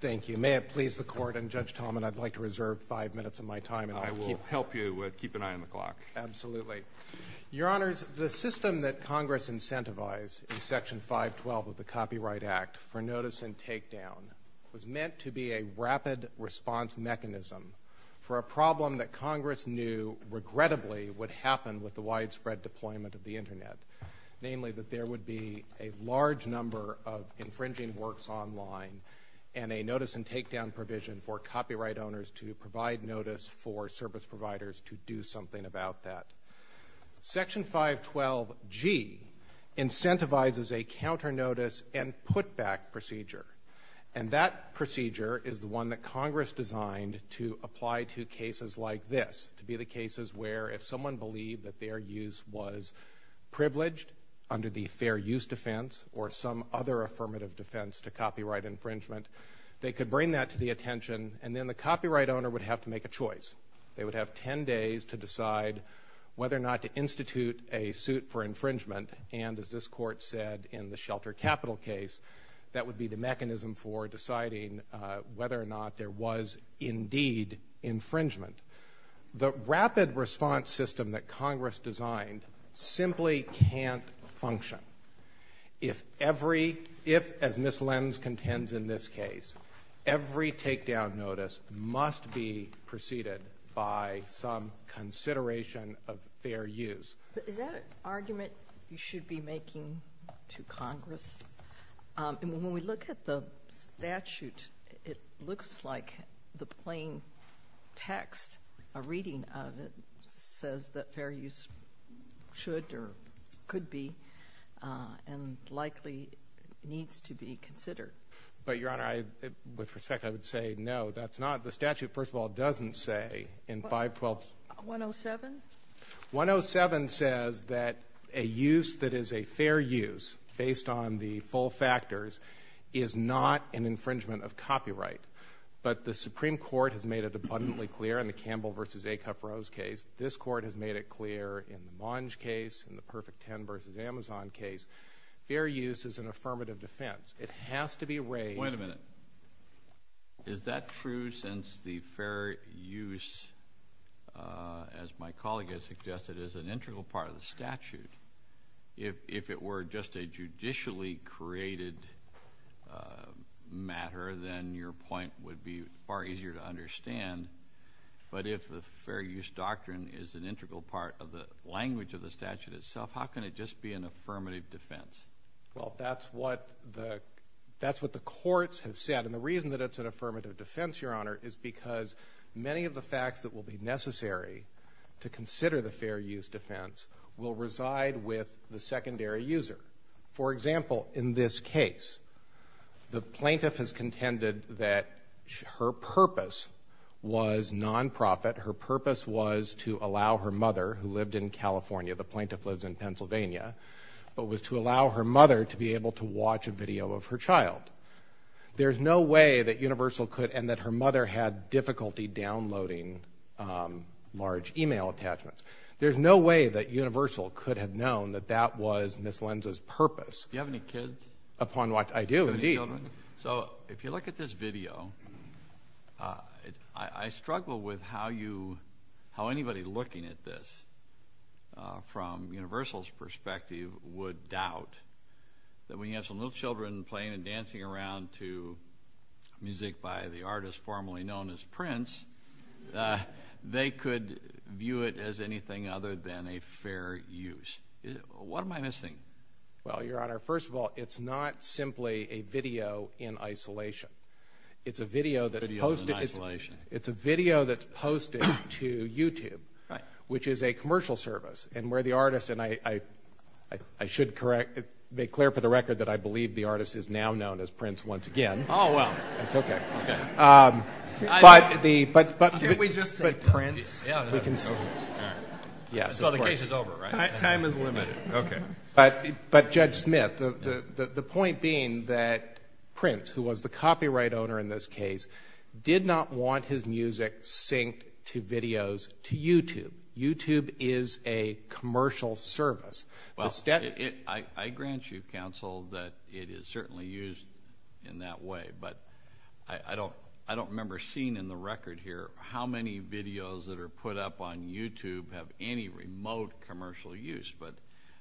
Thank you. May it please the Court, I'm Judge Tolman, I'd like to reserve five minutes of my time. I will help you, keep an eye on the clock. Absolutely. Your Honors, the system that Congress incentivized in Section 512 of the Copyright Act for notice and takedown was meant to be a rapid response mechanism for a problem that Congress knew regrettably would happen with the widespread deployment of the Internet. Namely, that there would be a large number of infringing works online and a notice and takedown provision for copyright owners to provide notice for service providers to do something about that. Section 512G incentivizes a counter-notice and put-back procedure. And that procedure is the one that Congress designed to apply to cases like this, to be the cases where if someone believed that their use was privileged under the fair use defense or some other affirmative defense to copyright infringement, they could bring that to the attention and then the copyright owner would have to make a choice. They would have ten days to decide whether or not to institute a suit for infringement and as this Court said in the Shelter Capital case, that would be the mechanism for deciding whether or not there was indeed infringement. The rapid response system that Congress designed simply can't function. If every, if as Ms. Lenz contends in this case, every takedown notice must be preceded by some consideration of fair use. Is that an argument you should be making to Congress? When we look at the statute, it looks like the plain text, a reading of it, says that fair use should or could be and likely needs to be considered. But Your Honor, with respect, I would say no, that's not. The statute, first of all, doesn't say in 512... 107? 107 says that a use that is a fair use based on the full factors is not an infringement of copyright. But the Supreme Court has made it abundantly clear in the Campbell v. Acuff-Rose case, this Court has made it clear in the Monge case, in the Perfect Ten v. Amazon case, fair use is an affirmative defense. It has to be raised... ...as an integral part of the statute. If it were just a judicially created matter, then your point would be far easier to understand. But if the fair use doctrine is an integral part of the language of the statute itself, how can it just be an affirmative defense? Well, that's what the courts have said. And the reason that it's an affirmative defense, Your Honor, is because many of the facts that will be necessary to consider the fair use defense will reside with the secondary user. For example, in this case, the plaintiff has contended that her purpose was non-profit, her purpose was to allow her mother, who lived in California, the plaintiff lives in Pennsylvania, but was to allow her mother to be able to watch a video of her child. There's no way that Universal could... and that her mother had difficulty downloading large email attachments. There's no way that Universal could have known that that was Ms. Lenz's purpose. Do you have any kids? Upon what I do, indeed. So if you look at this video, I struggle with how anybody looking at this from Universal's perspective would doubt that when you have some little children playing and dancing around to music by the artist formerly known as Prince, they could view it as anything other than a fair use. What am I missing? Well, Your Honor, first of all, it's not simply a video in isolation. It's a video that's posted to YouTube, which is a commercial service, and where the artist, and I should make clear for the record that I believe the artist is now known as Prince once again. Oh, well. It's okay. Can we just say Prince? So the case is over, right? Time is limited. But Judge Smith, the point being that Prince, who was the copyright owner in this case, did not want his music synced to videos to YouTube. YouTube is a commercial service. I grant you, counsel, that it is certainly used in that way, but I don't remember seeing in the record here how many videos that are put up on YouTube have any remote commercial use. But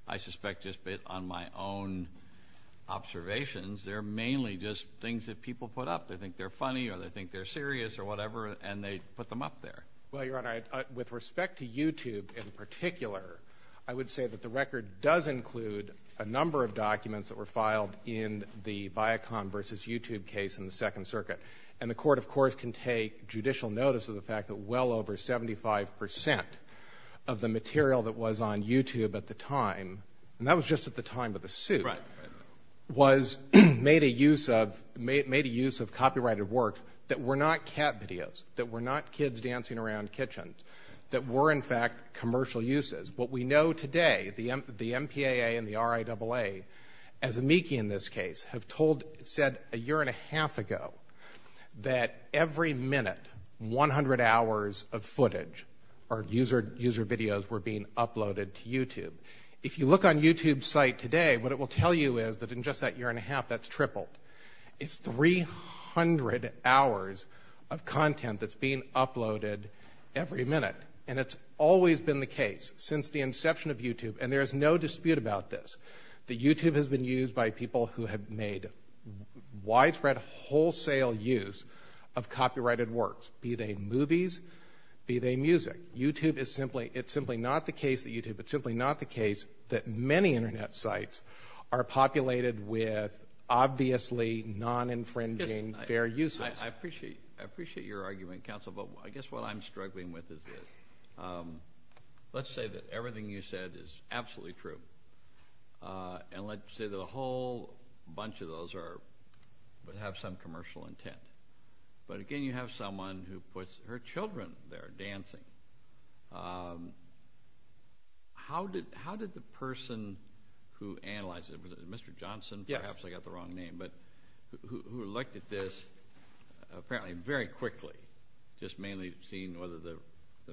I suspect just based on my own observations, they're mainly just things that people put up. They think they're funny or they think they're serious or whatever, and they put them up there. Well, Your Honor, with respect to YouTube in particular, I would say that the record does include a number of documents that were filed in the Viacom v. YouTube case in the Second Circuit. And the court, of course, can take judicial notice of the fact that well over 75% of the material that was on YouTube at the time, and that was just at the time of the suit, was made a use of copyrighted work that were not cat videos, that were not kids dancing around kitchens, that were in fact commercial uses. What we know today, the MPAA and the RIAA, as amici in this case, have said a year and a half ago that every minute, 100 hours of footage or user videos were being uploaded to YouTube. If you look on YouTube's site today, what it will tell you is that in just that year and a half, that's tripled, it's 300 hours of content that's being uploaded every minute. And it's always been the case since the inception of YouTube, and there's no dispute about this, that YouTube has been used by people who have made widespread wholesale use of copyrighted works, be they movies, be they music. It's simply not the case that YouTube, it's simply not the case that many Internet sites are populated with obviously non-infringing fair uses. I appreciate your argument, counsel, but I guess what I'm struggling with is this. Let's say that everything you said is absolutely true, and let's say that a whole bunch of those have some commercial intent. But again, you have someone who puts her children there dancing. How did the person who analyzed it, Mr. Johnson, perhaps I got the wrong name, but who looked at this apparently very quickly, just mainly seeing whether the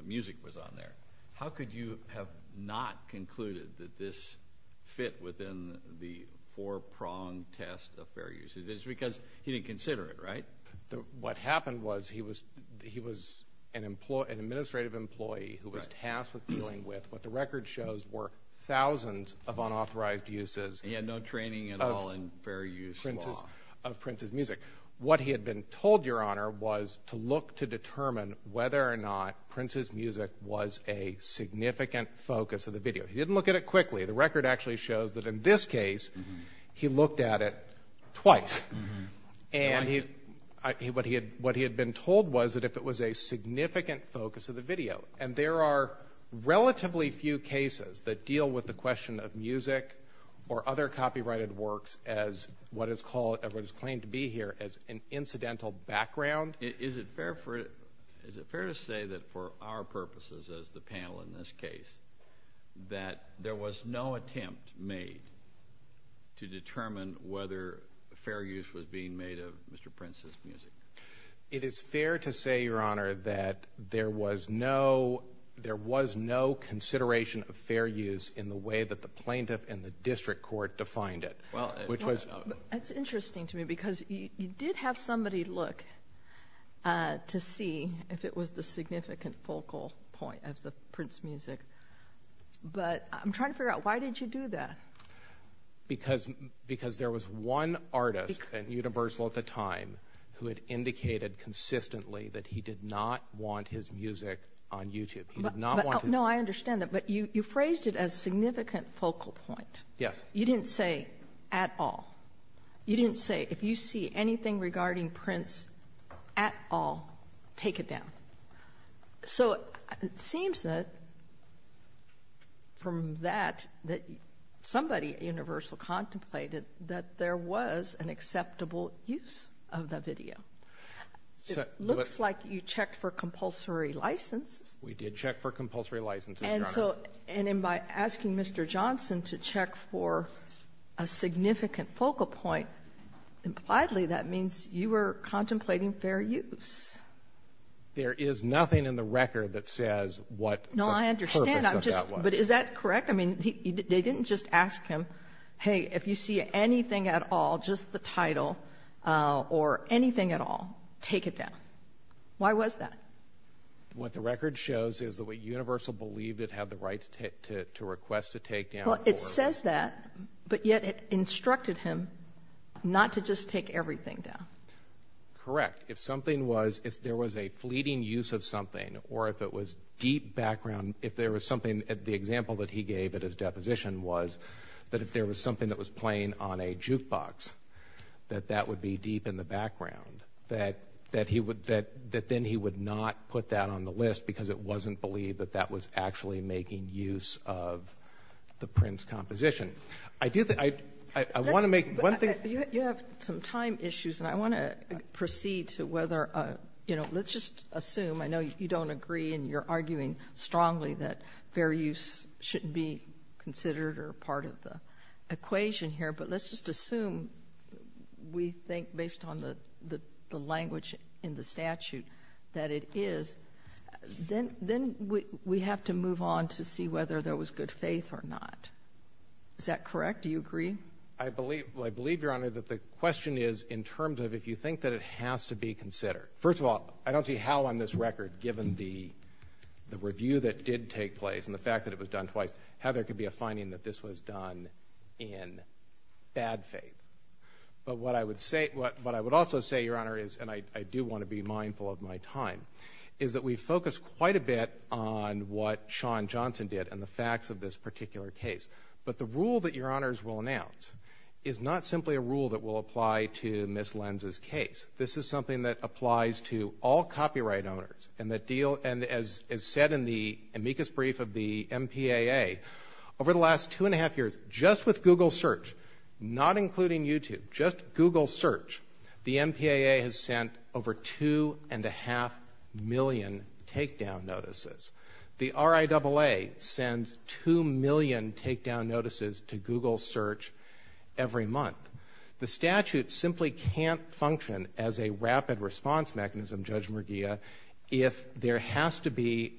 music was on there, how could you have not concluded that this fit within the four-pronged test of fair use? It's because he didn't consider it, right? What happened was he was an administrative employee who was tasked with dealing with what the record shows were thousands of unauthorized uses. He had no training at all in fair use law. Of Prince's music. What he had been told, Your Honor, was to look to determine whether or not Prince's music was a significant focus of the video. He didn't look at it quickly. The record actually shows that in this case he looked at it twice. What he had been told was that if it was a significant focus of the video, and there are relatively few cases that deal with the question of music or other copyrighted works as what is called, everyone's claimed to be here, as an incidental background. Is it fair to say that for our purposes as the panel in this case, that there was no attempt made to determine whether fair use was being made of Mr. Prince's music? It is fair to say, Your Honor, that there was no consideration of fair use in the way that the plaintiff and the district court defined it. That's interesting to me because you did have somebody look to see if it was the significant focal point of Prince's music. But I'm trying to figure out why did you do that? Because there was one artist at Universal at the time who had indicated consistently that he did not want his music on YouTube. No, I understand that, but you phrased it as significant focal point. You didn't say at all. You didn't say if you see anything regarding Prince at all, take it down. So it seems that from that, that somebody at Universal contemplated that there was an acceptable use of the video. It looks like you checked for compulsory license. And by asking Mr. Johnson to check for a significant focal point, impliedly that means you were contemplating fair use. There is nothing in the record that says what Prince's performance was. No, I understand, but is that correct? I mean, they didn't just ask him, hey, if you see anything at all, just the title or anything at all, take it down. Why was that? What the record shows is the way Universal believed it had the right to request to take down. Well, it says that, but yet it instructed him not to just take everything down. Correct. If there was a fleeting use of something or if it was deep background, if there was something, the example that he gave at his deposition was that if there was something that was playing on a jukebox, that that would be deep in the background, that then he would not put that on the list because it wasn't believed that that was actually making use of the Prince composition. I do think, I want to make one thing. You have some time issues, and I want to proceed to whether, you know, let's just assume, I know you don't agree and you're arguing strongly that fair use should be considered or part of the equation here, but let's just assume we think based on the language in the statute that it is, then we have to move on to see whether there was good faith or not. Is that correct? Do you agree? I believe, Your Honor, that the question is in terms of if you think that it has to be considered. First of all, I don't see how on this record, given the review that did take place and the fact that it was done twice, how there could be a finding that this was done in bad faith. But what I would also say, Your Honor, and I do want to be mindful of my time, is that we focus quite a bit on what Sean Johnson did and the facts of this particular case. But the rule that Your Honors will announce is not simply a rule that will apply to Ms. Lenz's case. This is something that applies to all copyright owners. And as is said in the amicus brief of the MPAA, over the last two and a half years, just with Google Search, not including YouTube, just Google Search, the MPAA has sent over two and a half million takedown notices. The RIAA sends two million takedown notices to Google Search every month. The statute simply can't function as a rapid response mechanism, Judge Merguia, if there has to be,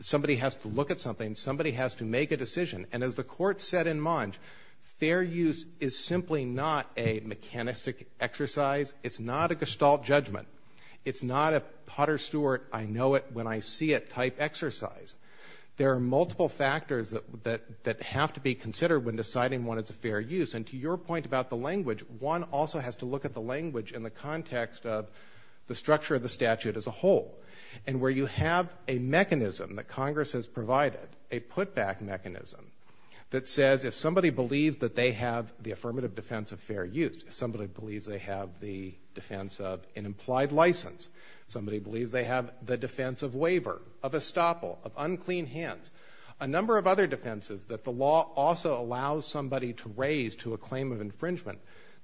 somebody has to look at something, somebody has to make a decision. And as the Court said in Mons, fair use is simply not a mechanistic exercise. It's not a gestalt judgment. It's not a Potter Stewart, I know it when I see it type exercise. There are multiple factors that have to be considered And to your point about the language, one also has to look at the language in the context of the structure of the statute as a whole. And where you have a mechanism that Congress has provided, a put-back mechanism that says if somebody believes that they have the affirmative defense of fair use, somebody believes they have the defense of an implied license, somebody believes they have the defense of waiver, of estoppel, of unclean hands, to a claim of infringement,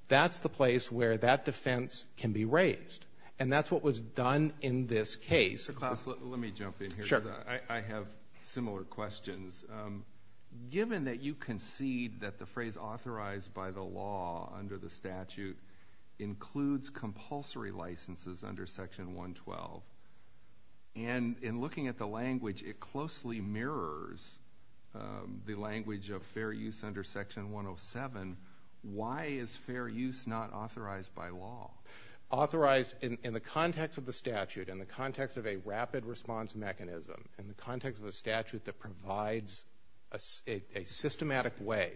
that's the place where that defense can be raised. And that's what was done in this case. Let me jump in here. I have similar questions. Given that you concede that the phrase authorized by the law under the statute includes compulsory licenses under Section 112, and in looking at the language, it closely mirrors the language of fair use under Section 107, why is fair use not authorized by law? Authorized in the context of the statute, in the context of a rapid response mechanism, in the context of the statute that provides a systematic way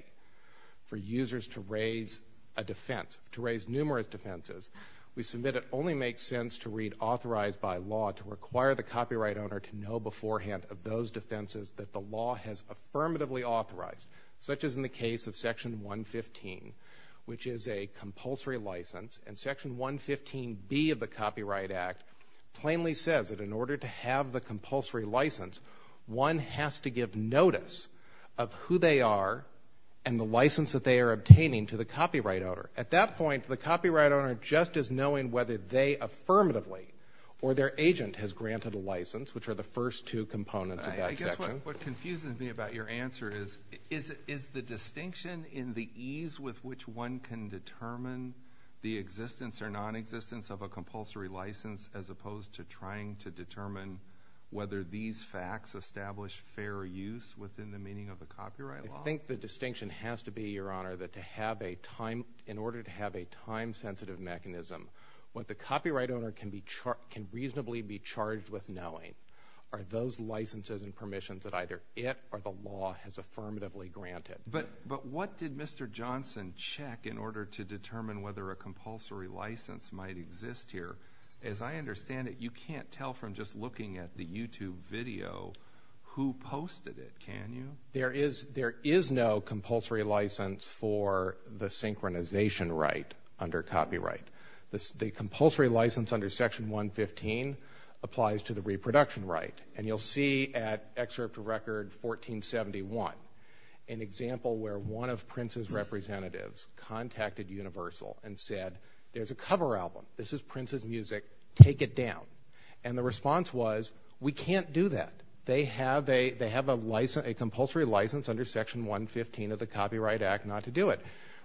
for users to raise a defense, to raise numerous defenses, we submit it only makes sense to read authorized by law to require the copyright owner to know beforehand of those defenses that the law has affirmatively authorized, such as in the case of Section 115, which is a compulsory license. And Section 115B of the Copyright Act plainly says that in order to have the compulsory license, one has to give notice of who they are and the license that they are obtaining to the copyright owner. At that point, the copyright owner just is knowing whether they affirmatively or their agent has granted a license, which are the first two components of that section. What confuses me about your answer is, is the distinction in the ease with which one can determine the existence or nonexistence of a compulsory license as opposed to trying to determine whether these facts establish fair use within the meaning of the copyright law? I think the distinction has to be, Your Honor, that in order to have a time-sensitive mechanism, what the copyright owner can reasonably be charged with knowing are those licenses and permissions that either it or the law has affirmatively granted. But what did Mr. Johnson check in order to determine whether a compulsory license might exist here? As I understand it, you can't tell from just looking at the YouTube video who posted it, can you? There is no compulsory license for the synchronization right under copyright. The compulsory license under Section 115 applies to the reproduction right. And you'll see at Excerpt to Record 1471 an example where one of Prince's representatives contacted Universal and said, there's a cover album, this is Prince's music, take it down. And the response was, we can't do that. They have a compulsory license under Section 115 of the Copyright Act not to do it.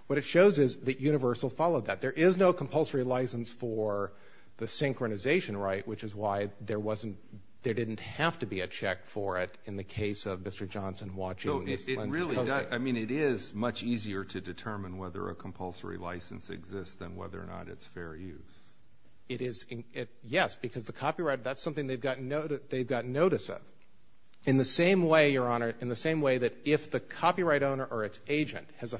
What it shows is that Universal followed that. There is no compulsory license for the synchronization right, which is why there didn't have to be a check for it in the case of Mr. Johnson watching. I mean, it is much easier to determine whether a compulsory license exists than whether or not it's fair use. Yes, because the copyright, that's something they've got notice of. In the same way, Your Honor, in the same way that if the copyright owner or its agent has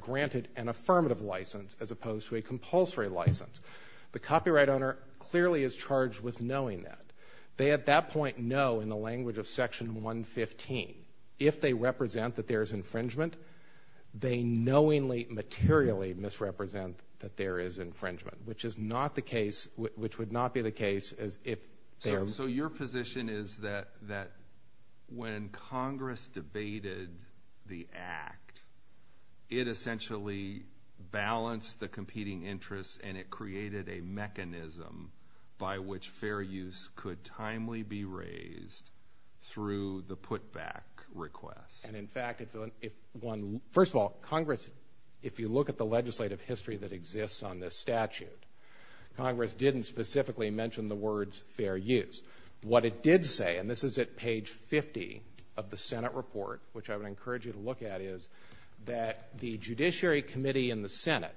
granted an affirmative license as opposed to a compulsory license, the copyright owner clearly is charged with knowing that. They at that point know in the language of Section 115 if they represent that there is infringement, they knowingly, materially misrepresent that there is infringement, which is not the case, which would not be the case if there... So your position is that when Congress debated the Act, it essentially balanced the competing interests and it created a mechanism by which fair use could timely be raised through the put-back request. And in fact, first of all, Congress, if you look at the legislative history that exists on this statute, Congress didn't specifically mention the words fair use. What it did say, and this is at page 50 of the Senate report, which I would encourage you to look at, is that the Judiciary Committee in the Senate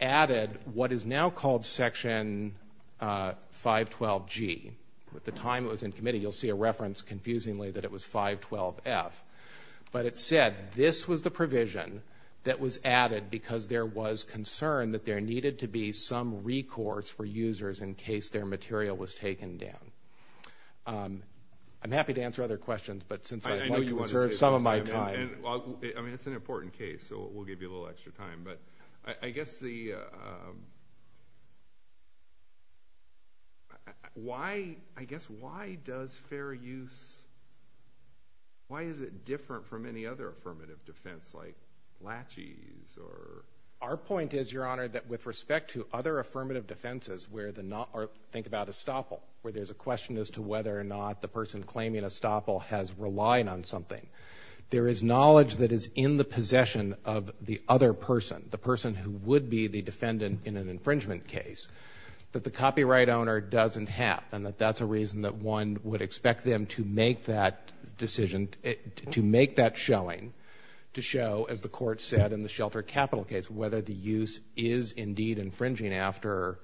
added what is now called Section 512G. At the time it was in committee, you'll see a reference confusingly that it was 512F. But it said this was the provision that was added because there was concern that there needed to be some recourse for users in case their material was taken down. I'm happy to answer other questions, but since I want to reserve some of my time... I mean, it's an important case, so we'll give you a little extra time. But I guess the... Why, I guess, why does fair use... Why is it different from any other affirmative defense like laches or... Our point is, Your Honor, that with respect to other affirmative defenses where the...think about estoppel, where there's a question as to whether or not the person claiming estoppel has relied on something. There is knowledge that is in the possession of the other person, the person who would be the defendant in an infringement case. But the copyright owner doesn't have, and that that's a reason that one would expect them to make that decision, to make that showing, to show, as the court said in the Shelter Capital case, whether the use is indeed infringing after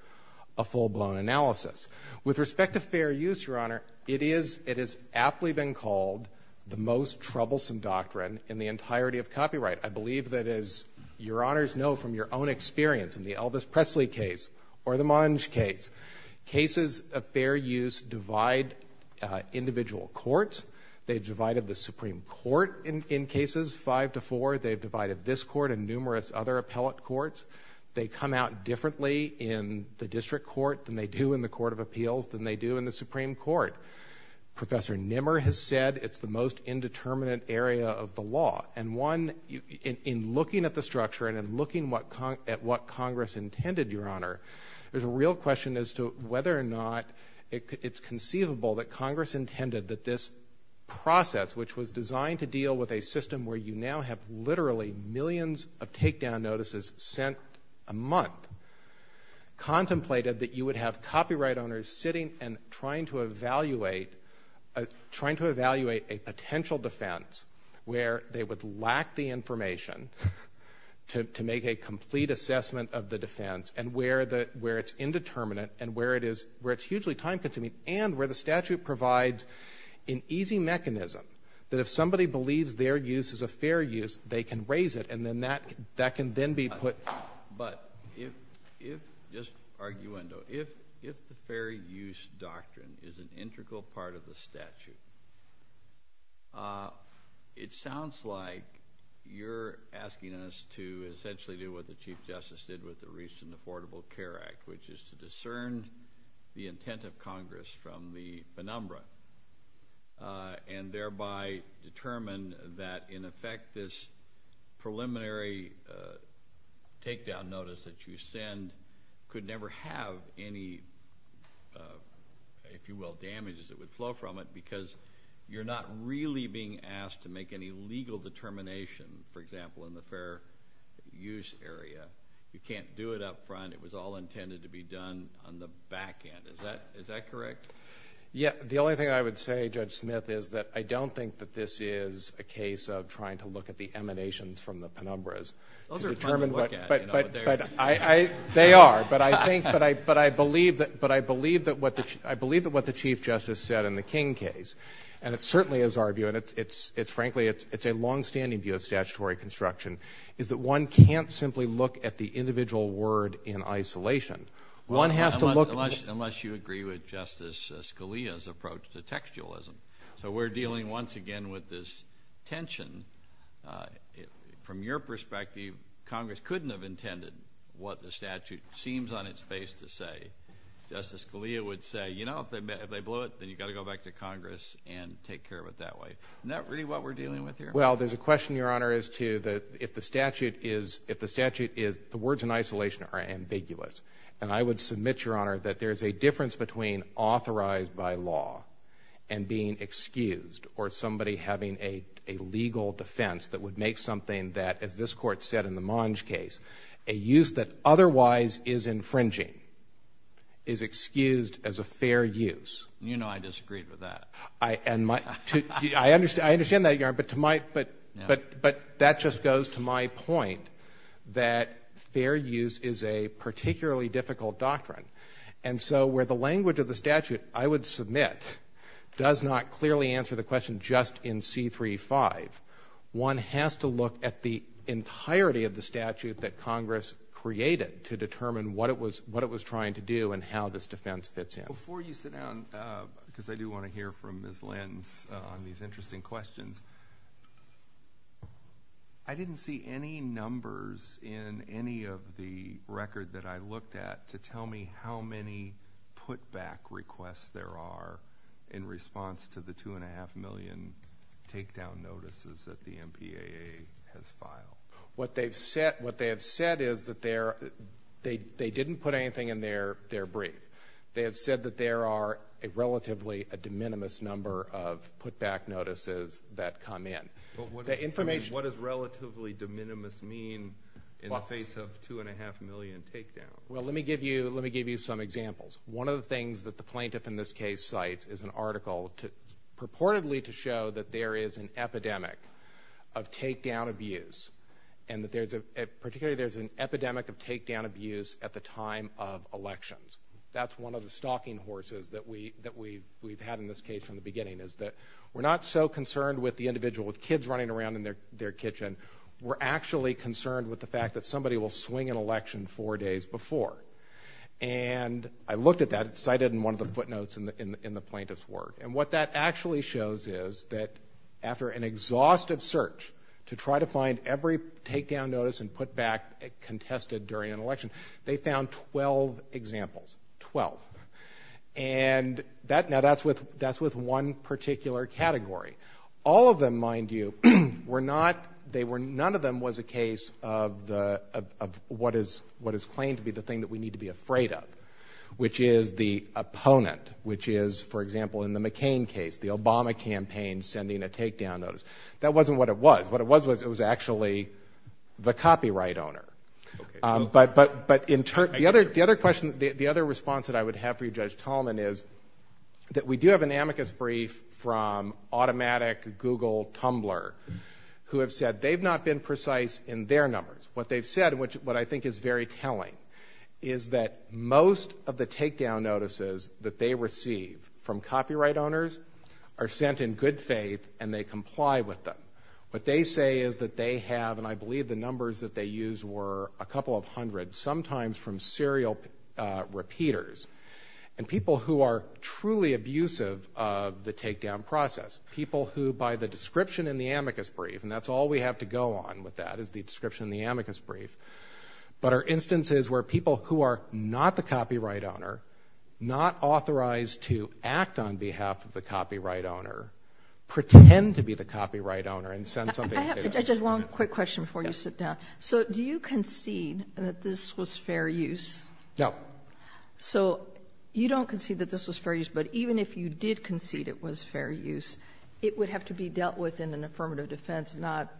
a full-blown analysis. With respect to fair use, Your Honor, it has aptly been called the most troublesome doctrine in the entirety of copyright. I believe that, as Your Honors know from your own experience in the Elvis Presley case or the Monge case, cases of fair use divide individual courts. They've divided the Supreme Court in cases five to four. They've divided this court and numerous other appellate courts. They come out differently in the district court than they do in the Court of Appeals, than they do in the Supreme Court. Professor Nimmer has said it's the most indeterminate area of the law. And one, in looking at the structure and in looking at what Congress intended, Your Honor, there's a real question as to whether or not it's conceivable that Congress intended that this process, which was designed to deal with a system where you now have literally millions of takedown notices sent a month, contemplated that you would have copyright owners sitting and trying to evaluate a potential defense where they would lack the information to make a complete assessment of the defense and where it's indeterminate and where it's hugely time-consuming and where the statute provides an easy mechanism that if somebody believes their use is a fair use, they can raise it and then that can then be put out. But if, just arguendo, if the fair use doctrine is an integral part of the statute, it sounds like you're asking us to essentially do what the Chief Justice did with the recent Affordable Care Act, which is to discern the intent of Congress from the penumbra and thereby determine that, in effect, this preliminary takedown notice that you send could never have any, if you will, damages that would flow from it because you're not really being asked to make any legal determination, for example, in the fair use area. You can't do it up front. It was all intended to be done on the back end. Is that correct? Yeah. The only thing I would say, Judge Smith, is that I don't think that this is a case of trying to look at the emanations from the penumbras. Those are fine to look at. They are. But I believe that what the Chief Justice said in the King case, and it certainly is our view, and, frankly, it's a longstanding view of statutory construction, is that one can't simply look at the individual word in isolation. Unless you agree with Justice Scalia's approach to textualism. So we're dealing once again with this tension. From your perspective, Congress couldn't have intended what the statute seems on its face to say. Justice Scalia would say, you know, if they blow it, then you've got to go back to Congress and take care of it that way. Isn't that really what we're dealing with here? Well, there's a question, Your Honor, as to if the statute is, the words in isolation are ambiguous. And I would submit, Your Honor, that there's a difference between authorized by law and being excused or somebody having a legal defense that would make something that, as this Court said in the Monge case, a use that otherwise is infringing is excused as a fair use. You know I disagreed with that. I understand that, Your Honor, but that just goes to my point that fair use is a particularly difficult doctrine. And so where the language of the statute, I would submit, does not clearly answer the question just in C-3-5, one has to look at the entirety of the statute that Congress created to determine what it was trying to do and how this defense fits in. Before you sit down, because I do want to hear from Ms. Lenton on these interesting questions, I didn't see any numbers in any of the records that I looked at to tell me how many put-back requests there are in response to the 2.5 million takedown notices that the MPAA has filed. What they have said is that they didn't put anything in their brief. They have said that there are a relatively de minimis number of put-back notices that come in. What does relatively de minimis mean in the face of 2.5 million takedowns? Well, let me give you some examples. One of the things that the plaintiff in this case cites is an article purportedly to show that there is an epidemic of takedown abuse and that particularly there's an epidemic of takedown abuse at the time of elections. That's one of the stalking horses that we've had in this case from the beginning is that we're not so concerned with the individual with kids running around in their kitchen, we're actually concerned with the fact that somebody will swing an election four days before. And I looked at that and cited it in one of the footnotes in the plaintiff's work. And what that actually shows is that after an exhaustive search to try to find every takedown notice and put-back contested during an election, they found 12 examples, 12. And now that's with one particular category. All of them, mind you, were not, none of them was a case of what is claimed to be the thing that we need to be afraid of, which is the opponent, which is, for example, in the McCain case, the Obama campaign sending a takedown notice. That wasn't what it was. What it was was it was actually the copyright owner. But the other response that I would have for you, Judge Tolman, is that we do have an amicus brief from automatic Google Tumblr who have said they've not been precise in their numbers. What they've said, which I think is very telling, is that most of the takedown notices that they receive from copyright owners are sent in good faith and they comply with them. What they say is that they have, and I believe the numbers that they used were a couple of hundred, sometimes from serial repeaters, and people who are truly abusive of the takedown process, people who by the description in the amicus brief, and that's all we have to go on with that is the description in the amicus brief, but are instances where people who are not the copyright owner, not authorized to act on behalf of the copyright owner, pretend to be the copyright owner and send something. I have just one quick question before you sit down. So do you concede that this was fair use? No. So you don't concede that this was fair use, but even if you did concede it was fair use, it would have to be dealt with in an affirmative defense and not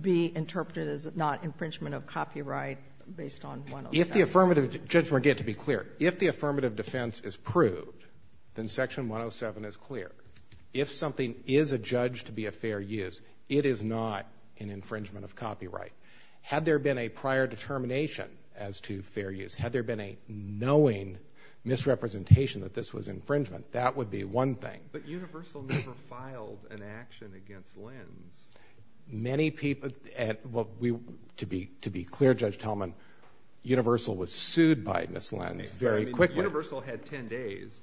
be interpreted as not infringement of copyright based on 107. If the affirmative defense is proved, then Section 107 is clear. If something is adjudged to be a fair use, it is not an infringement of copyright. Had there been a prior determination as to fair use, had there been a knowing misrepresentation that this was infringement, that would be one thing. But Universal never filed an action against Lynn. To be clear, Judge Tallman, Universal was sued by Ms. Lynn very quickly. Universal had 10 days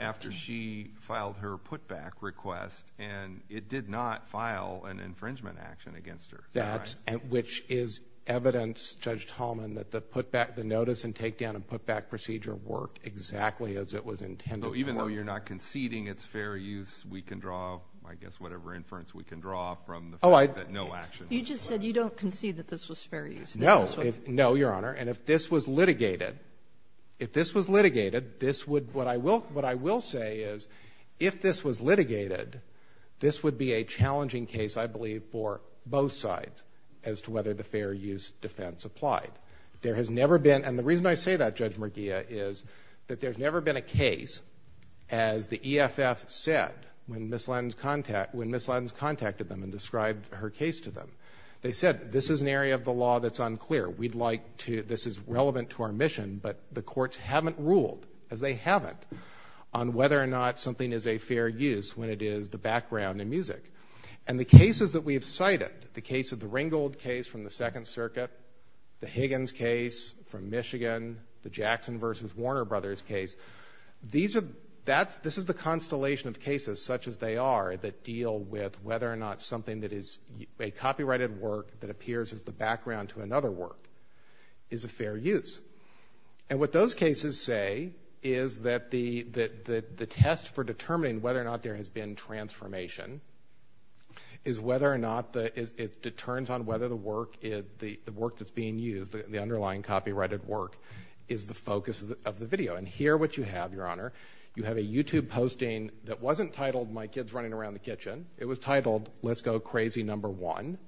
after she filed her putback request, and it did not file an infringement action against her. Which is evidence, Judge Tallman, that the notice and take down and putback procedure worked exactly as it was intended. So even though you're not conceding it's fair use, we can draw, I guess, whatever inference we can draw from the fact that no action was taken. You just said you don't concede that this was fair use. No, Your Honor. And if this was litigated, what I will say is if this was litigated, this would be a challenging case, I believe, for both sides as to whether the fair use defense applied. There has never been, and the reason I say that, Judge McGeough, is that there's never been a case as the EFF said when Ms. Lynn contacted them and described her case to them. They said this is an area of the law that's unclear. We'd like to, this is relevant to our mission, but the courts haven't ruled, as they haven't, on whether or not something is a fair use when it is the background in music. And the cases that we've cited, the case of the Ringgold case from the Second Circuit, the Higgins case from Michigan, the Jackson v. Warner Brothers case, this is the constellation of cases such as they are that deal with whether or not something that is a copyrighted work that appears as the background to another work is a fair use. And what those cases say is that the test for determining whether or not there has been transformation is whether or not it turns on whether the work that's being used, the underlying copyrighted work, is the focus of the video. And here what you have, Your Honor, you have a YouTube posting that wasn't titled My Kid's Running Around the Kitchen. It was titled Let's Go Crazy Number One.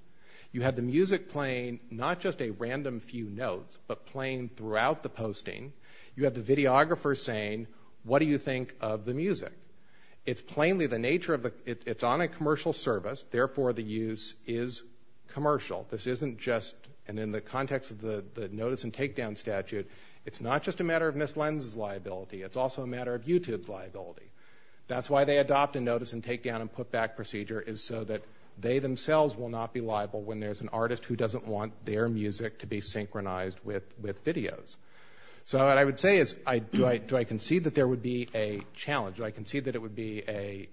You had the music playing not just a random few notes, but playing throughout the posting. You have the videographer saying, What do you think of the music? It's plainly the nature of a, it's on a commercial service, therefore the use is commercial. This isn't just, and in the context of the notice and takedown statute, it's not just a matter of Ms. Lenz's liability, it's also a matter of YouTube's liability. That's why they adopt a notice and takedown and putback procedure is so that they themselves will not be liable when there's an artist who doesn't want their music to be synchronized with videos. So what I would say is do I concede that there would be a challenge? Do I concede that it would be a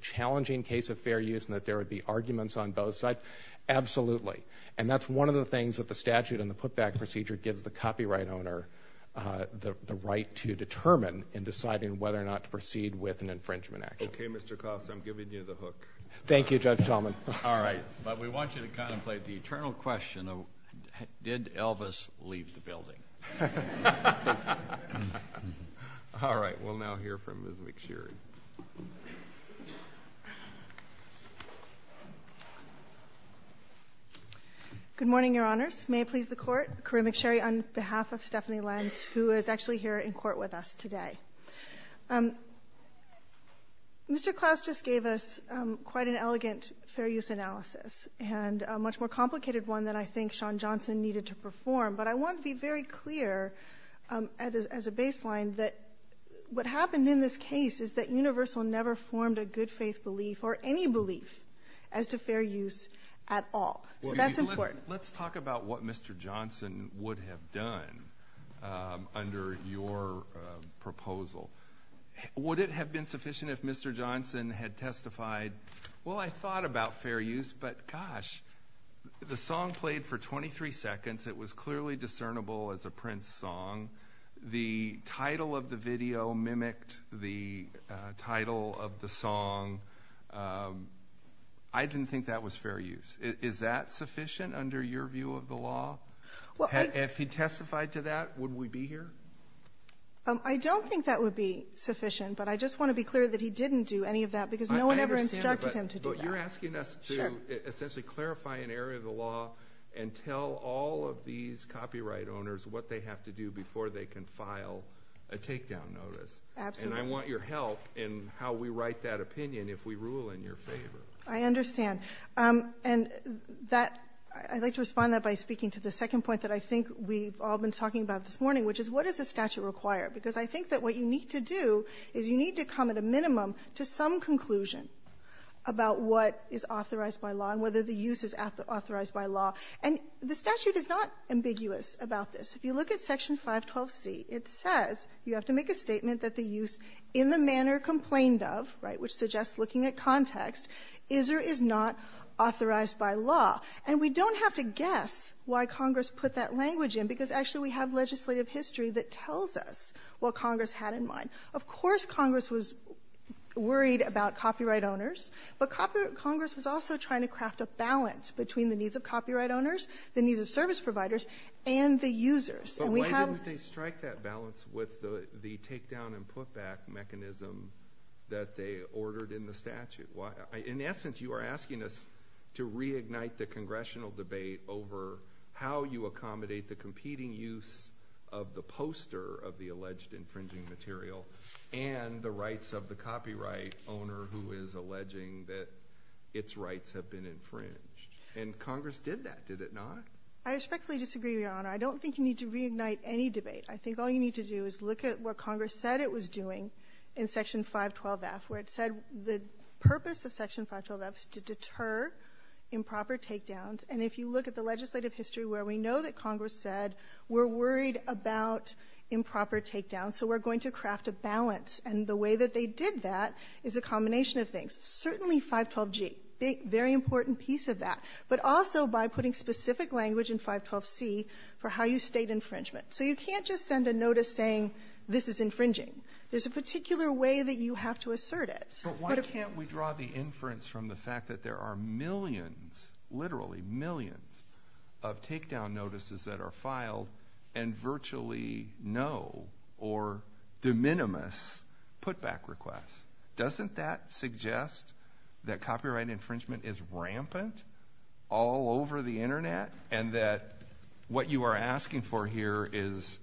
challenging case of fair use and that there would be arguments on both sides? Absolutely. And that's one of the things that the statute and the putback procedure gives the copyright owner the right to determine in deciding whether or not to proceed with an infringement action. Okay, Mr. Kost, I'm giving you the hook. Thank you, Judge Hellman. All right, but we want you to contemplate the eternal question, did Elvis leave the building? All right, we'll now hear from Ms. McSherry. Good morning, Your Honors. May it please the Court, Kareem McSherry on behalf of Stephanie Lenz, who is actually here in court with us today. Mr. Krauss just gave us quite an elegant fair use analysis and a much more complicated one than I think Sean Johnson needed to perform, but I want to be very clear as a baseline that what happened in this case is that Universal never formed a good faith belief or any belief as to fair use at all. So that's important. Let's talk about what Mr. Johnson would have done under your proposal. Would it have been sufficient if Mr. Johnson had testified, well, I thought about fair use, but gosh, the song played for 23 seconds. It was clearly discernible as a Prince song. The title of the video mimicked the title of the song. I didn't think that was fair use. Is that sufficient under your view of the law? If he testified to that, would we be here? I don't think that would be sufficient, but I just want to be clear that he didn't do any of that because no one ever instructed him to do that. But you're asking us to essentially clarify an area of the law and tell all of these copyright owners what they have to do before they can file a takedown notice. Absolutely. And I want your help in how we write that opinion if we rule in your favor. I understand. And I'd like to respond to that by speaking to the second point that I think we've all been talking about this morning, which is what does the statute require? Because I think that what you need to do is you need to come at a minimum to some conclusion about what is authorized by law and whether the use is authorized by law. And the statute is not ambiguous about this. If you look at Section 5, Code C, it says you have to make a statement that the use in the manner complained of, which suggests looking at context, is or is not authorized by law. And we don't have to guess why Congress put that language in because actually we have legislative history that tells us what Congress had in mind. Of course Congress was worried about copyright owners, but Congress was also trying to craft a balance between the needs of copyright owners, the needs of service providers, and the users. So why didn't they strike that balance with the takedown and put-back mechanism that they ordered in the statute? In essence, you are asking us to reignite the congressional debate over how you accommodate the competing use of the poster of the alleged infringing material and the rights of the copyright owner who is alleging that its rights have been infringed. And Congress did that, did it not? I respectfully disagree, Your Honor. I don't think you need to reignite any debate. I think all you need to do is look at what Congress said it was doing in Section 512F where it said the purpose of Section 512F is to deter improper takedowns, and if you look at the legislative history where we know that Congress said we're worried about improper takedowns, so we're going to craft a balance. And the way that they did that is a combination of things. Certainly 512G, a very important piece of that, but also by putting specific language in 512C for how you state infringement. So you can't just send a notice saying this is infringing. There's a particular way that you have to assert it. But why can't we draw the inference from the fact that there are millions, literally millions, of takedown notices that are filed and virtually no or de minimis put-back requests? Doesn't that suggest that copyright infringement is rampant all over the Internet and that what you are asking for here is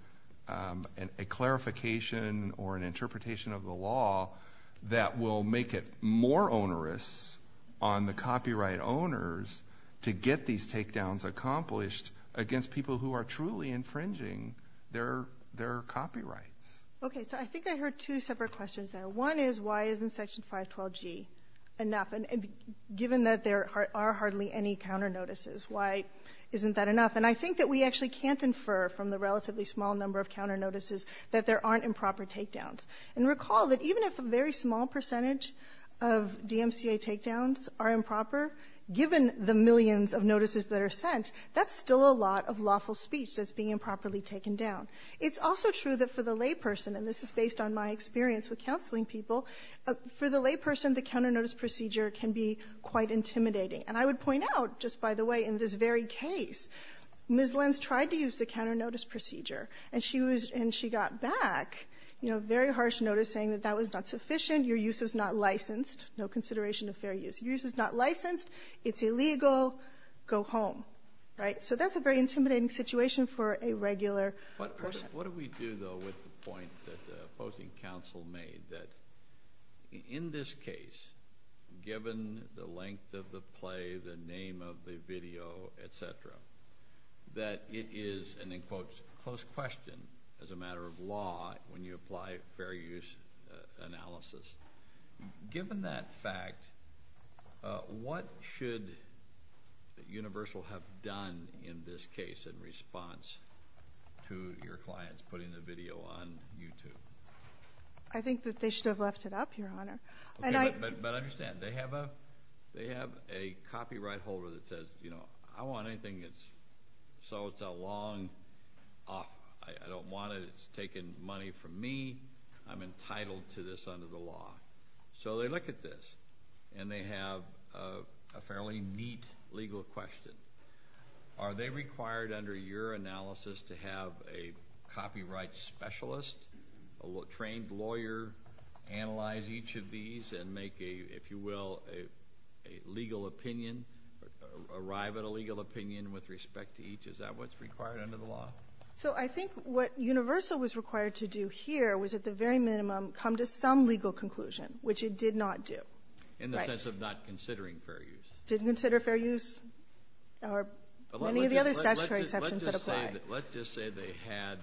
a clarification or an interpretation of the law that will make it more onerous on the copyright owners to get these takedowns accomplished against people who are truly infringing their copyright? Okay, so I think I heard two separate questions there. One is why isn't Section 512G enough, given that there are hardly any counter notices? Why isn't that enough? And I think that we actually can't infer from the relatively small number of counter notices that there aren't improper takedowns. And recall that even if a very small percentage of DMCA takedowns are improper, given the millions of notices that are sent, that's still a lot of lawful speech that's being improperly taken down. It's also true that for the layperson, and this is based on my experience with counseling people, for the layperson the counter notice procedure can be quite intimidating. And I would point out, just by the way, in this very case, Ms. Lenz tried to use the counter notice procedure, and she got back very harsh notice saying that that was not sufficient, your use is not licensed, no consideration of fair use. Your use is not licensed, it's illegal, go home. So that's a very intimidating situation for a regular person. What do we do, though, with the point that the opposing counsel made that in this case, given the length of the play, the name of the video, et cetera, that it is an, in quotes, close question as a matter of law when you apply fair use analysis. Given that fact, what should Universal have done in this case in response to your clients putting the video on YouTube? I think that they should have left it up, Your Honor. But understand, they have a copyright holder that says, you know, I don't want anything that's, so it's a long, I don't want it, it's taking money from me, I'm entitled to this under the law. So they look at this, and they have a fairly neat legal question. Are they required under your analysis to have a copyright specialist, a trained lawyer analyze each of these and make a, if you will, a legal opinion, arrive at a legal opinion with respect to each? Is that what's required under the law? So I think what Universal was required to do here was at the very minimum come to some legal conclusion, which it did not do. In the sense of not considering fair use. Didn't consider fair use or any of the other statutory sections that apply. Let's just say they had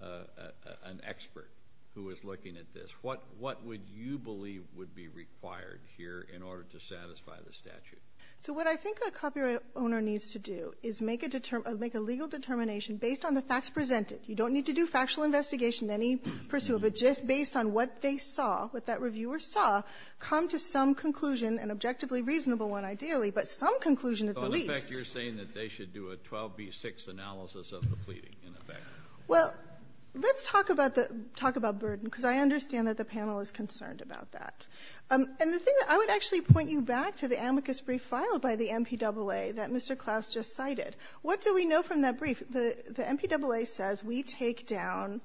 an expert who was looking at this. What would you believe would be required here in order to satisfy the statute? So what I think a copyright owner needs to do is make a legal determination based on the facts presented. You don't need to do factual investigation, any pursuit, but just based on what they saw, what that reviewer saw, come to some conclusion, an objectively reasonable one ideally, but some conclusion at least. So in effect you're saying that they should do a 12B6 analysis of the plea. Well, let's talk about burden, because I understand that the panel is concerned about that. And the thing that I would actually point you back to the amicus brief filed by the MPAA that Mr. Klaus just cited. What do we know from that brief? The MPAA says we take down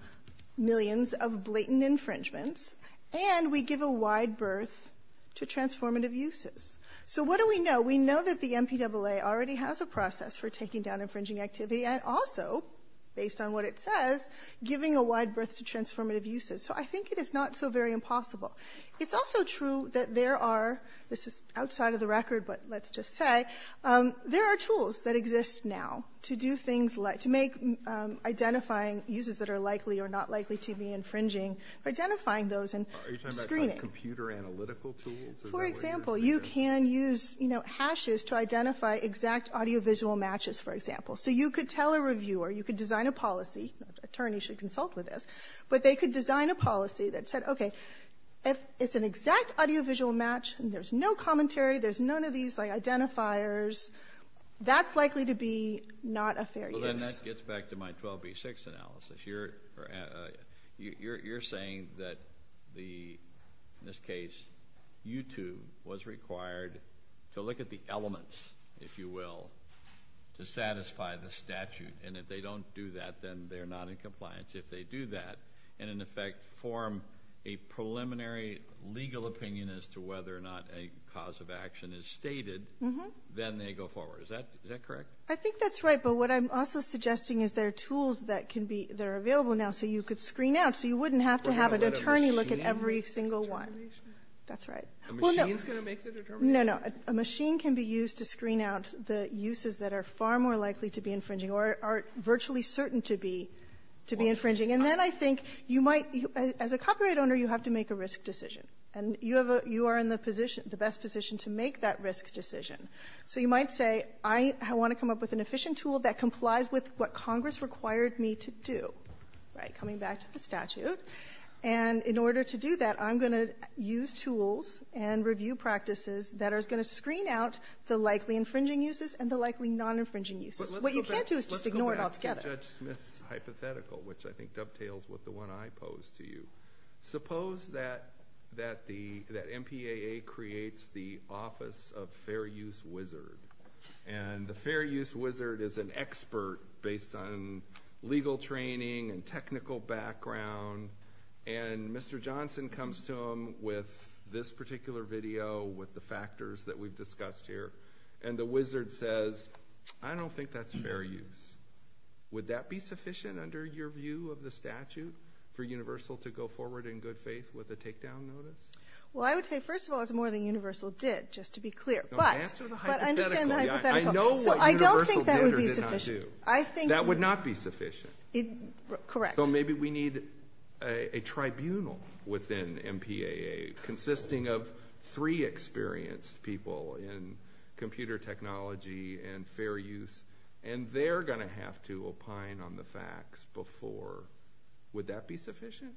millions of blatant infringements and we give a wide berth to transformative uses. So what do we know? We know that the MPAA already has a process for taking down infringing activity and also, based on what it says, giving a wide berth to transformative uses. So I think it is not so very impossible. It's also true that there are, this is outside of the record, but let's just say, there are tools that exist now to do things like identifying users that are likely or not likely to be infringing, identifying those and screening. Are you talking about computer analytical tools? For example, you can use hashes to identify exact audiovisual matches, for example. So you could tell a reviewer, you could design a policy, attorneys should consult with this, but they could design a policy that said, okay, if it's an exact audiovisual match and there's no commentary, there's none of these identifiers, that's likely to be not a fair use. So then that gets back to my 12B6 analysis. You're saying that the, in this case, YouTube was required to look at the elements, if you will, to satisfy the statute. And if they don't do that, then they're not in compliance. If they do that and, in effect, form a preliminary legal opinion as to whether or not a cause of action is stated, then they go forward. Is that correct? I think that's right. But what I'm also suggesting is there are tools that are available now so you could screen out so you wouldn't have to have an attorney look at every single one. That's right. A machine is going to make the determination? No, no. A machine can be used to screen out the uses that are far more likely to be infringing or are virtually certain to be infringing. And then I think you might, as a copyright owner, you have to make a risk decision. And you are in the best position to make that risk decision. So you might say, I want to come up with an efficient tool that complies with what Congress required me to do. Right, coming back to the statute. And in order to do that, I'm going to use tools and review practices that are going to screen out the likely infringing uses and the likely non-infringing uses. What you can't do is just ignore it altogether. But let's go back to Judge Smith's hypothetical, which I think dovetails with the one I posed to you. Suppose that MPAA creates the Office of Fair Use Wizard. And the Fair Use Wizard is an expert based on legal training and technical background. And Mr. Johnson comes to him with this particular video with the factors that we've discussed here. And the wizard says, I don't think that's fair use. Would that be sufficient under your view of the statute for Universal to go forward in good faith with a takedown notice? Well, I would say, first of all, it's more than Universal did, just to be clear. But understand the hypothetical. I know what Universal did or did not do. I don't think that would be sufficient. That would not be sufficient. Correct. So maybe we need a tribunal within MPAA consisting of three experienced people in computer technology and fair use. And they're going to have to opine on the facts before. Would that be sufficient?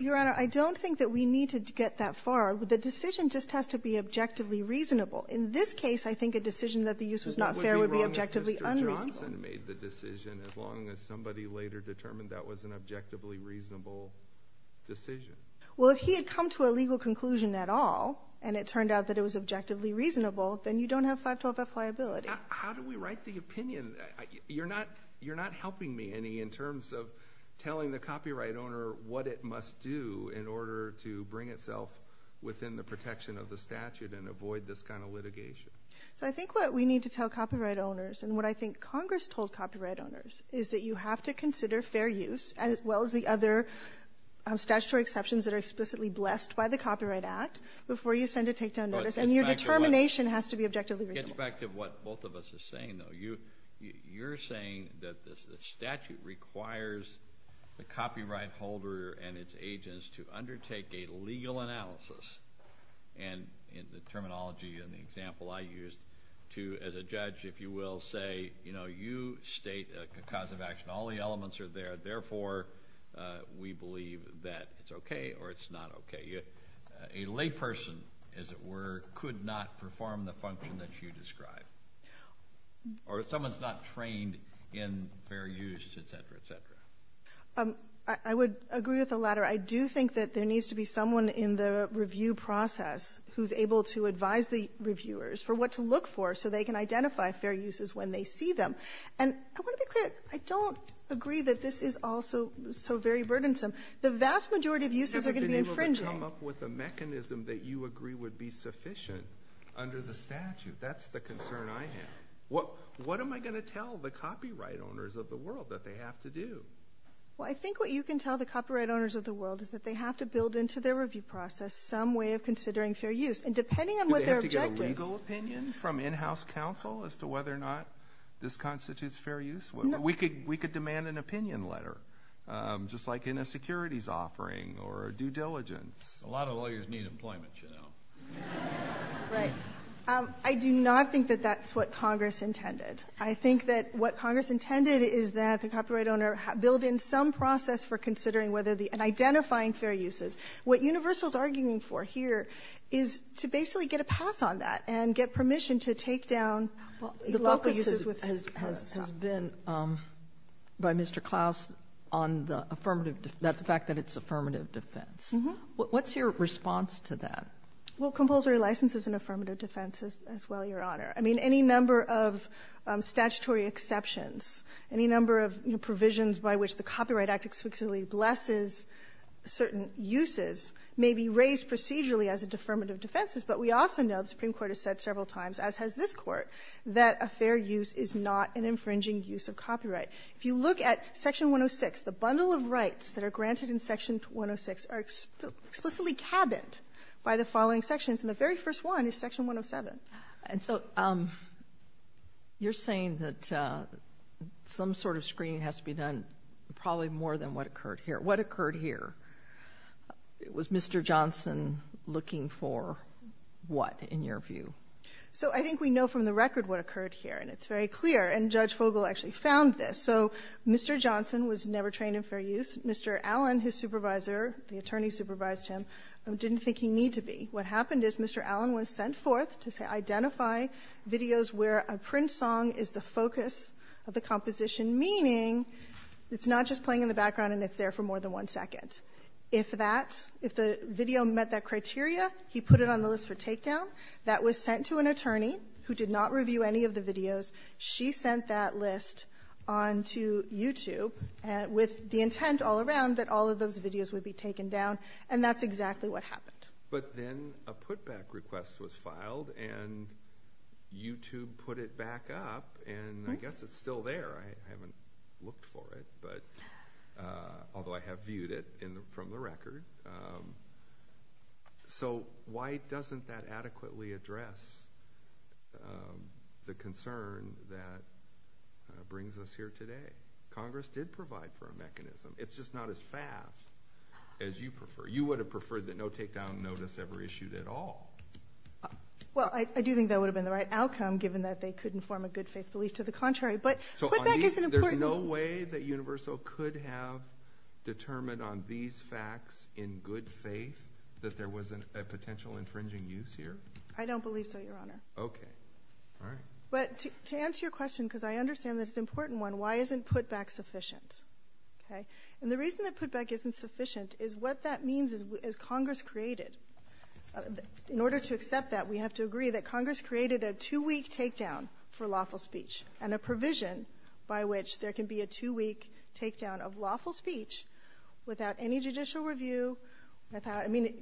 Your Honor, I don't think that we need to get that far. The decision just has to be objectively reasonable. In this case, I think a decision that the use was not fair would be objectively unreasonable. What would be wrong if Mr. Johnson made the decision as long as somebody later determined that was an objectively reasonable decision? Well, if he had come to a legal conclusion at all and it turned out that it was objectively reasonable, then you don't have 512F liability. How do we write the opinion? You're not helping me in terms of telling the copyright owner what it must do in order to bring itself within the protection of the statute and avoid this kind of litigation. I think what we need to tell copyright owners and what I think Congress told copyright owners is that you have to consider fair use as well as the other statutory exceptions that are explicitly blessed by the Copyright Act before you send a takedown notice. And your determination has to be objectively reasonable. Get back to what both of us are saying, though. You're saying that the statute requires the copyright holder and its agents to undertake a legal analysis, and in the terminology and the example I used, to, as a judge, if you will, say, you know, you state a cause of action. All the elements are there. Therefore, we believe that it's okay or it's not okay. A layperson, as it were, could not perform the function that you described. Or someone's not trained in fair use, et cetera, et cetera. I would agree with the latter. I do think that there needs to be someone in the review process who's able to advise the reviewers for what to look for so they can identify fair uses when they see them. And I don't agree that this is all so very burdensome. The vast majority of uses are going to be infringing. You have to be able to come up with a mechanism that you agree would be sufficient under the statute. That's the concern I have. What am I going to tell the copyright owners of the world that they have to do? Well, I think what you can tell the copyright owners of the world is that they have to build into their review process some way of considering fair use. And depending on what their objective is. Do they have to get a legal opinion from in-house counsel as to whether or not this constitutes fair use? We could demand an opinion letter, just like in a securities offering or a due diligence. A lot of lawyers need employment, you know. Right. I do not think that that's what Congress intended. I think that what Congress intended is that the copyright owner build in some process for considering and identifying fair uses. What Universal's arguing for here is to basically get a pass on that and get permission to take down local uses. The focus has been, by Mr. Klaus, on the fact that it's affirmative defense. What's your response to that? Well, compulsory license is an affirmative defense as well, Your Honor. I mean, any number of statutory exceptions, any number of provisions by which the Copyright Act exclusively blesses certain uses may be raised procedurally as an affirmative defense. But we also know, the Supreme Court has said several times, as has this Court, that a fair use is not an infringing use of copyright. If you look at Section 106, the bundle of rights that are granted in Section 106 are explicitly cabined by the following sections, and the very first one is Section 107. And so you're saying that some sort of screening has to be done, probably more than what occurred here. What occurred here? Was Mr. Johnson looking for what, in your view? So I think we know from the record what occurred here, and it's very clear. And Judge Fogel actually found this. So Mr. Johnson was never trained in fair use. Mr. Allen, his supervisor, the attorney supervised him, didn't think he needed to be. What happened is Mr. Allen was sent forth to identify videos where a print song is the focus of the composition, meaning it's not just playing in the background and it's there for more than one second. If the video met that criteria, he put it on the list for takedown. That was sent to an attorney who did not review any of the videos. She sent that list on to YouTube with the intent all around that all of those videos would be taken down, and that's exactly what happened. But then a putback request was filed, and YouTube put it back up, and I guess it's still there. I haven't looked for it, although I have viewed it from the record. So why doesn't that adequately address the concern that brings us here today? Congress did provide for a mechanism. It's just not as fast as you prefer. You would have preferred that no takedown notice ever issued at all. Well, I do think that would have been the right outcome, given that they couldn't form a good faith belief to the contrary. But putback isn't important. So there's no way that Universal could have determined on these facts in good faith that there was a potential infringing use here? I don't believe so, Your Honor. Okay. All right. But to answer your question, because I understand this is an important one, why isn't putback sufficient? And the reason that putback isn't sufficient is what that means is Congress created, in order to accept that, we have to agree that Congress created a two-week takedown for lawful speech and a provision by which there can be a two-week takedown of lawful speech without any judicial review. I mean,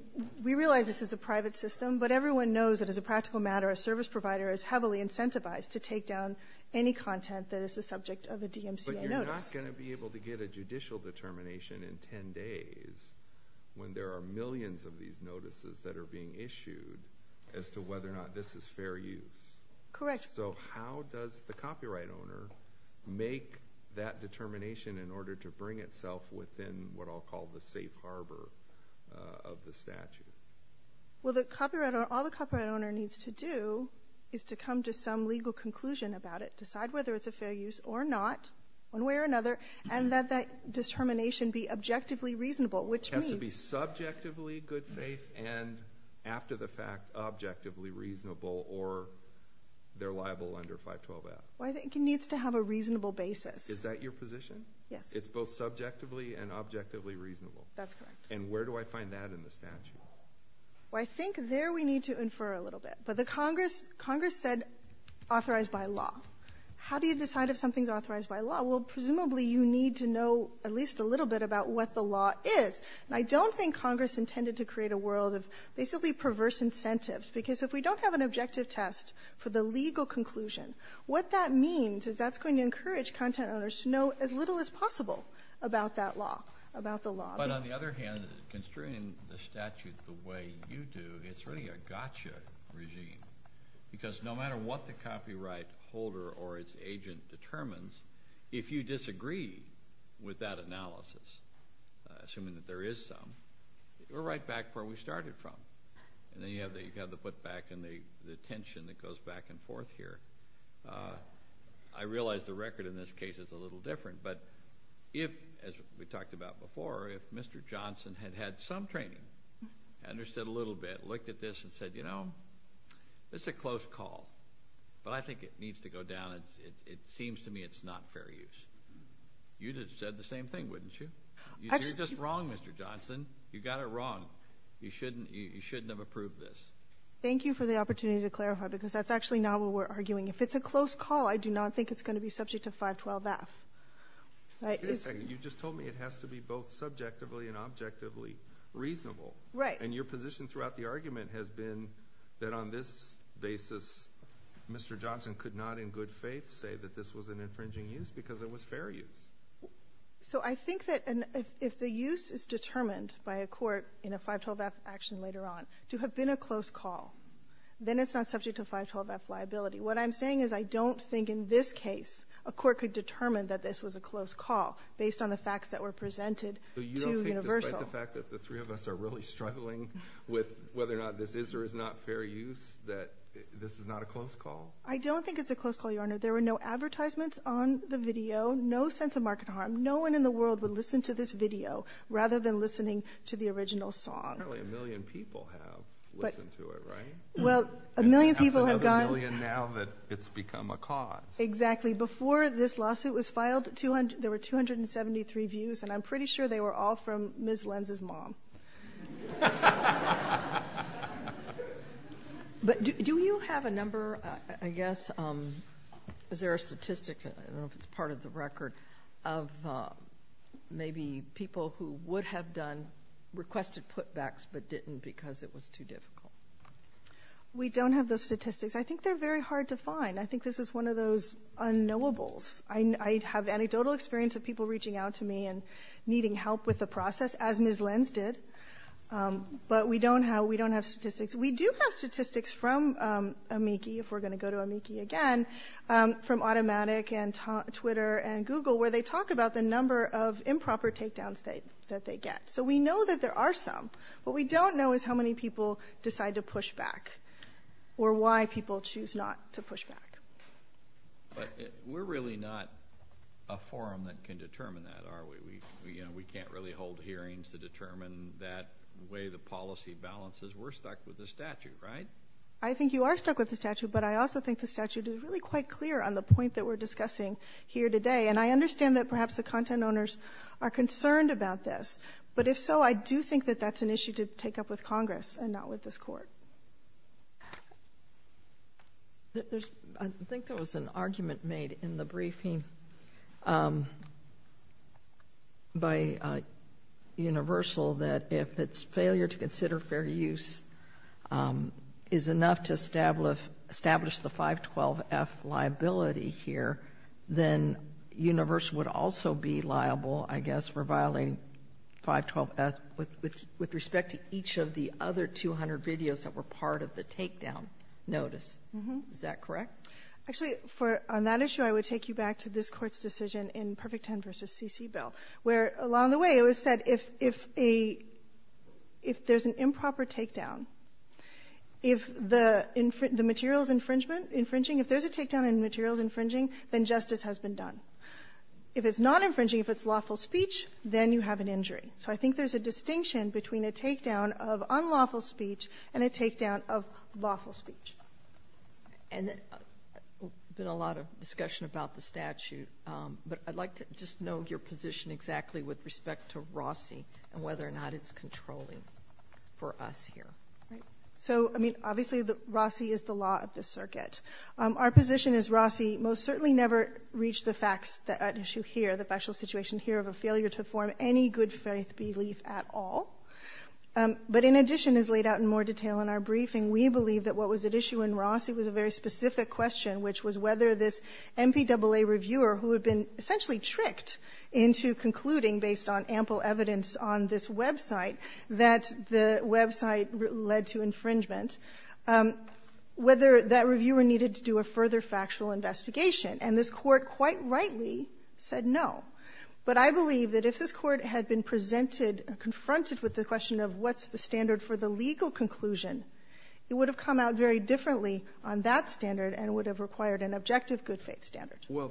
we realize this is a private system, but everyone knows that as a practical matter, a service provider is heavily incentivized to take down any content that is the subject of a DMCA notice. But you're not going to be able to get a judicial determination in ten days when there are millions of these notices that are being issued as to whether or not this is fair use. Correct. So how does the copyright owner make that determination in order to bring itself within what I'll call the safe harbor of the statute? Well, all the copyright owner needs to do is to come to some legal conclusion about it, decide whether it's a fair use or not, one way or another, and let that determination be objectively reasonable, which means— It has to be subjectively good faith and, after the fact, objectively reasonable or they're liable under 512-F. Well, I think it needs to have a reasonable basis. Is that your position? Yes. It's both subjectively and objectively reasonable. That's correct. And where do I find that in the statute? Well, I think there we need to infer a little bit. So Congress said authorized by law. How do you decide if something's authorized by law? Well, presumably you need to know at least a little bit about what the law is. And I don't think Congress intended to create a world of basically perverse incentives because if we don't have an objective test for the legal conclusion, what that means is that's going to encourage content owners to know as little as possible about that law, about the law. But on the other hand, considering the statute the way you do, it's really a gotcha regime because no matter what the copyright holder or its agent determines, if you disagree with that analysis, assuming that there is some, we're right back where we started from. And then you have to put back in the tension that goes back and forth here. I realize the record in this case is a little different, but if, as we talked about before, if Mr. Johnson had had some training, understood a little bit, looked at this and said, you know, it's a close call. Well, I think it needs to go down. It seems to me it's not fair use. You'd have said the same thing, wouldn't you? You're just wrong, Mr. Johnson. You got it wrong. You shouldn't have approved this. Thank you for the opportunity to clarify because that's actually not what we're arguing. If it's a close call, I do not think it's going to be subject to 512F. You just told me it has to be both subjectively and objectively reasonable. And your position throughout the argument has been that on this basis, Mr. Johnson could not in good faith say that this was an infringing use because it was fair use. So I think that if the use is determined by a court in a 512F action later on to have been a close call, then it's not subject to 512F liability. What I'm saying is I don't think in this case a court could determine that this was a close call based on the facts that were presented to Universal. So you don't think, despite the fact that the three of us are really struggling with whether or not this is or is not fair use, that this is not a close call? I don't think it's a close call, Your Honor. There were no advertisements on the video, no sense of market harm. No one in the world would listen to this video rather than listening to the original song. Apparently a million people have listened to it, right? Well, a million people have gone. Now that it's become a cause. Exactly. Before this lawsuit was filed, there were 273 views, and I'm pretty sure they were all from Ms. Lenz's mom. But do you have a number, I guess, is there a statistic, part of the record, of maybe people who would have requested putbacks but didn't because it was too difficult? We don't have those statistics. I think they're very hard to find. I think this is one of those unknowables. I have anecdotal experience of people reaching out to me and needing help with the process, as Ms. Lenz did, but we don't have statistics. We do have statistics from Amici, if we're going to go to Amici again, from Automatic and Twitter and Google, where they talk about the number of improper takedowns that they get. So we know that there are some. What we don't know is how many people decide to push back or why people choose not to push back. But we're really not a forum that can determine that, are we? We can't really hold hearings to determine that way the policy balances. We're stuck with the statute, right? I think you are stuck with the statute, but I also think the statute is really quite clear on the point that we're discussing here today, and I understand that perhaps the content owners are concerned about this. But if so, I do think that that's an issue to take up with Congress and not with this Court. I think there was an argument made in the briefing by Universal that if it's failure to consider fair use is enough to establish the 512F liability here, then Universal would also be liable, I guess, for violating 512F with respect to each of the other 200 videos that were part of the takedown notice. Is that correct? Actually, on that issue, I would take you back to this Court's decision in Perfect 10 v. C.C. Bill, where along the way it was said if there's an improper takedown, if there's a takedown and the material is infringing, then justice has been done. If it's not infringing, if it's lawful speech, then you have an injury. So I think there's a distinction between a takedown of unlawful speech and a takedown of lawful speech. There's been a lot of discussion about the statute, but I'd like to just know your position exactly with respect to Rossi and whether or not it's controlling for us here. So, I mean, obviously Rossi is the law of the circuit. Our position is Rossi most certainly never reached the issue here, the factual situation here of a failure to form any good faith belief at all. But in addition, as laid out in more detail in our briefing, we believe that what was at issue in Rossi was a very specific question, which was whether this MPAA reviewer who had been essentially tricked into concluding, based on ample evidence on this website, that the website led to infringement, whether that reviewer needed to do a further factual investigation. And this Court quite rightly said no. But I believe that if this Court had been presented, confronted with the question of what's the standard for the legal conclusion, it would have come out very differently on that standard and would have required an objective good faith standard. Well,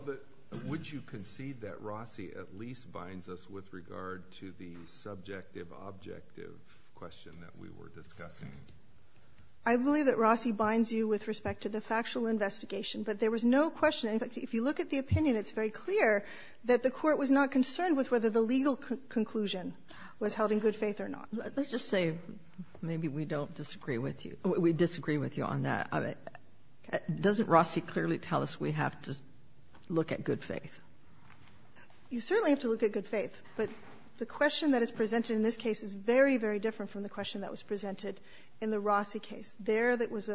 would you concede that Rossi at least binds us with regard to the subjective objective question that we were discussing? I believe that Rossi binds you with respect to the factual investigation, but there was no question. If you look at the opinion, it's very clear that the Court was not concerned with whether the legal conclusion was held in good faith or not. Let's just say maybe we don't disagree with you. We disagree with you on that. Doesn't Rossi clearly tell us we have to look at good faith? You certainly have to look at good faith, but the question that is presented in this case is very, very different from the question that was presented in the Rossi case. There was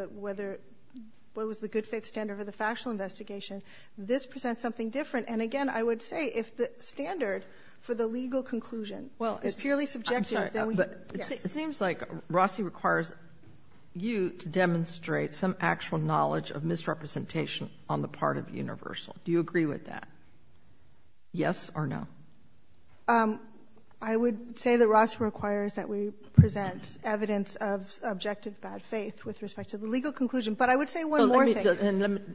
the good faith standard for the factual investigation. This presents something different. And again, I would say if the standard for the legal conclusion is purely subjective, it seems like Rossi requires you to demonstrate some actual knowledge of misrepresentation on the part of Universal. Do you agree with that? Yes or no? I would say that Rossi requires that we present evidence of objective good faith with respect to the legal conclusion, but I would say one more thing.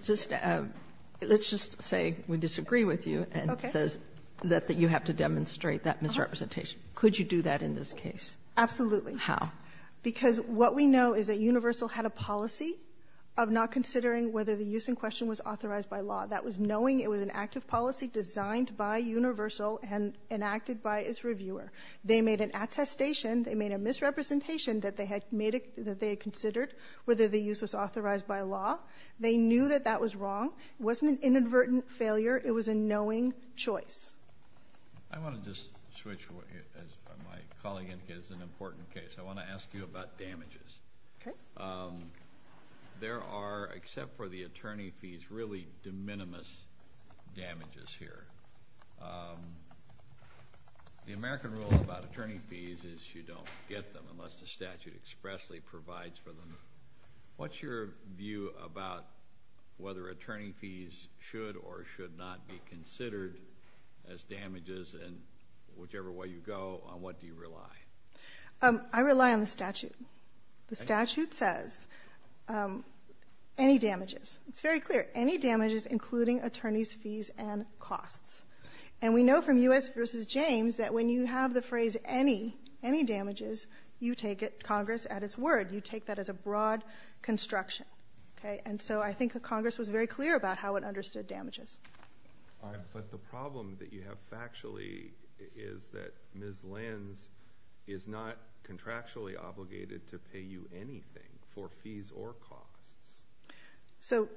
Let's just say we disagree with you and it says that you have to demonstrate that misrepresentation. Could you do that in this case? Absolutely. How? Because what we know is that Universal had a policy of not considering whether the use in question was authorized by law. That was knowing it was an active policy designed by Universal and enacted by its reviewer. They made an attestation, they made a misrepresentation that they had considered whether the use was authorized by law. They knew that that was wrong. It wasn't an inadvertent failure. It was a knowing choice. I want to just switch as my colleague indicates it's an important case. I want to ask you about damages. Okay. There are, except for the attorney fees, really de minimis damages here. The American rule about attorney fees is you don't get them unless the statute expressly provides for them. What's your view about whether attorney fees should or should not be considered as damages and whichever way you go, on what do you rely? I rely on the statute. The statute says any damages. It's very clear, any damages including attorney's fees and costs. And we know from U.S. v. James that when you have the phrase any, any damages, you take it, Congress, at its word. You take that as a broad construction. And so I think Congress was very clear about how it understood damages. But the problem that you have factually is that Ms. Lenz is not contractually obligated to pay you anything for fees or costs. So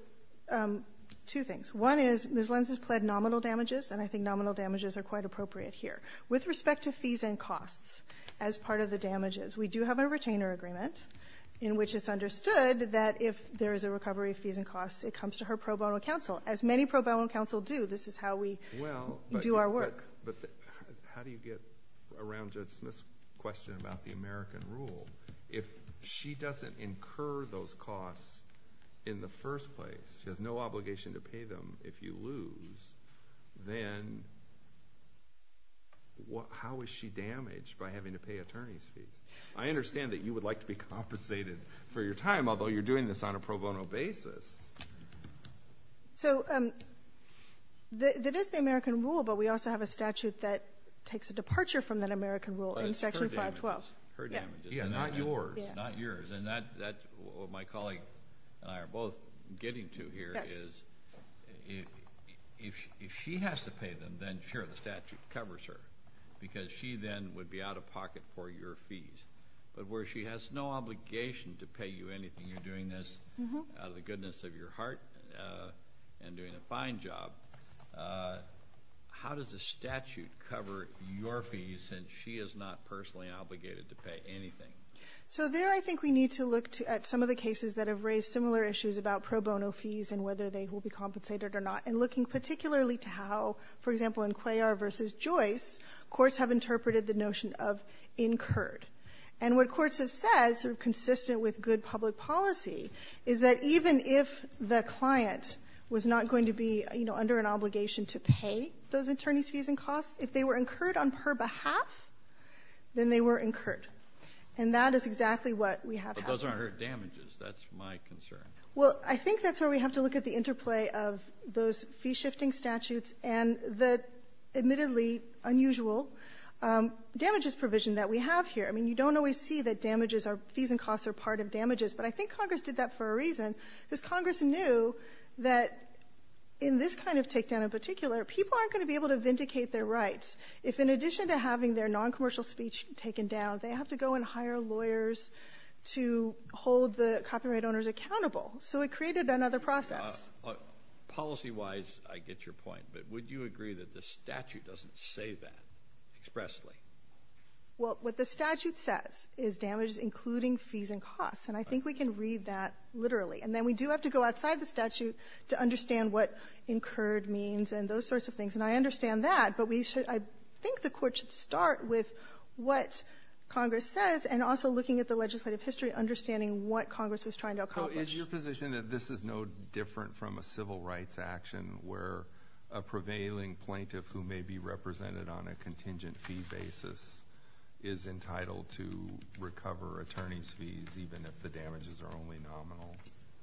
two things. One is Ms. Lenz has pled nominal damages, and I think nominal damages are quite appropriate here. With respect to fees and costs as part of the damages, we do have a retainer agreement in which it's understood that if there is a recovery of fees and costs, it comes to her pro bono counsel. As many pro bono counsel do, this is how we do our work. But how do you get around this question about the American rule? If she doesn't incur those costs in the first place, there's no obligation to pay them if you lose, then how is she damaged by having to pay attorney fees? I understand that you would like to be compensated for your time, although you're doing this on a pro bono basis. So there is the American rule, but we also have a statute that takes a departure from that American rule in Section 512. Yeah, not yours, not yours. What my colleague and I are both getting to here is if she has to pay them, then sure, the statute covers her, because she then would be out of pocket for your fees. But where she has no obligation to pay you anything, you're doing this out of the goodness of your heart and doing a fine job, how does the statute cover your fees since she is not personally obligated to pay anything? So there I think we need to look at some of the cases that have raised similar issues about pro bono fees and whether they will be compensated or not, and looking particularly to how, for example, in Cuellar v. Joyce, courts have interpreted the notion of incurred. And what courts have said, sort of consistent with good public policy, is that even if the client was not going to be under an obligation to pay those attorney fees and costs, if they were incurred on her behalf, then they were incurred. And that is exactly what we have here. But those aren't her damages. That's my concern. Well, I think that's where we have to look at the interplay of those fee-shifting statutes and the admittedly unusual damages provision that we have here. I mean, you don't always see that fees and costs are part of damages, but I think Congress did that for a reason, because Congress knew that in this kind of takedown in particular, people aren't going to be able to vindicate their rights if in addition to having their noncommercial speech taken down, they have to go and hire lawyers to hold the copyright owners accountable. So it created another process. Policy-wise, I get your point, but would you agree that the statute doesn't say that expressly? Well, what the statute says is damages including fees and costs, and I think we can read that literally. And then we do have to go outside the statute to understand what incurred means and those sorts of things. And I understand that, but I think the court should start with what Congress says and also looking at the legislative history, understanding what Congress is trying to accomplish. So is your position that this is no different from a civil rights action where a prevailing plaintiff who may be represented on a contingent fee basis is entitled to recover attorney's fees even if the damages are only nominal?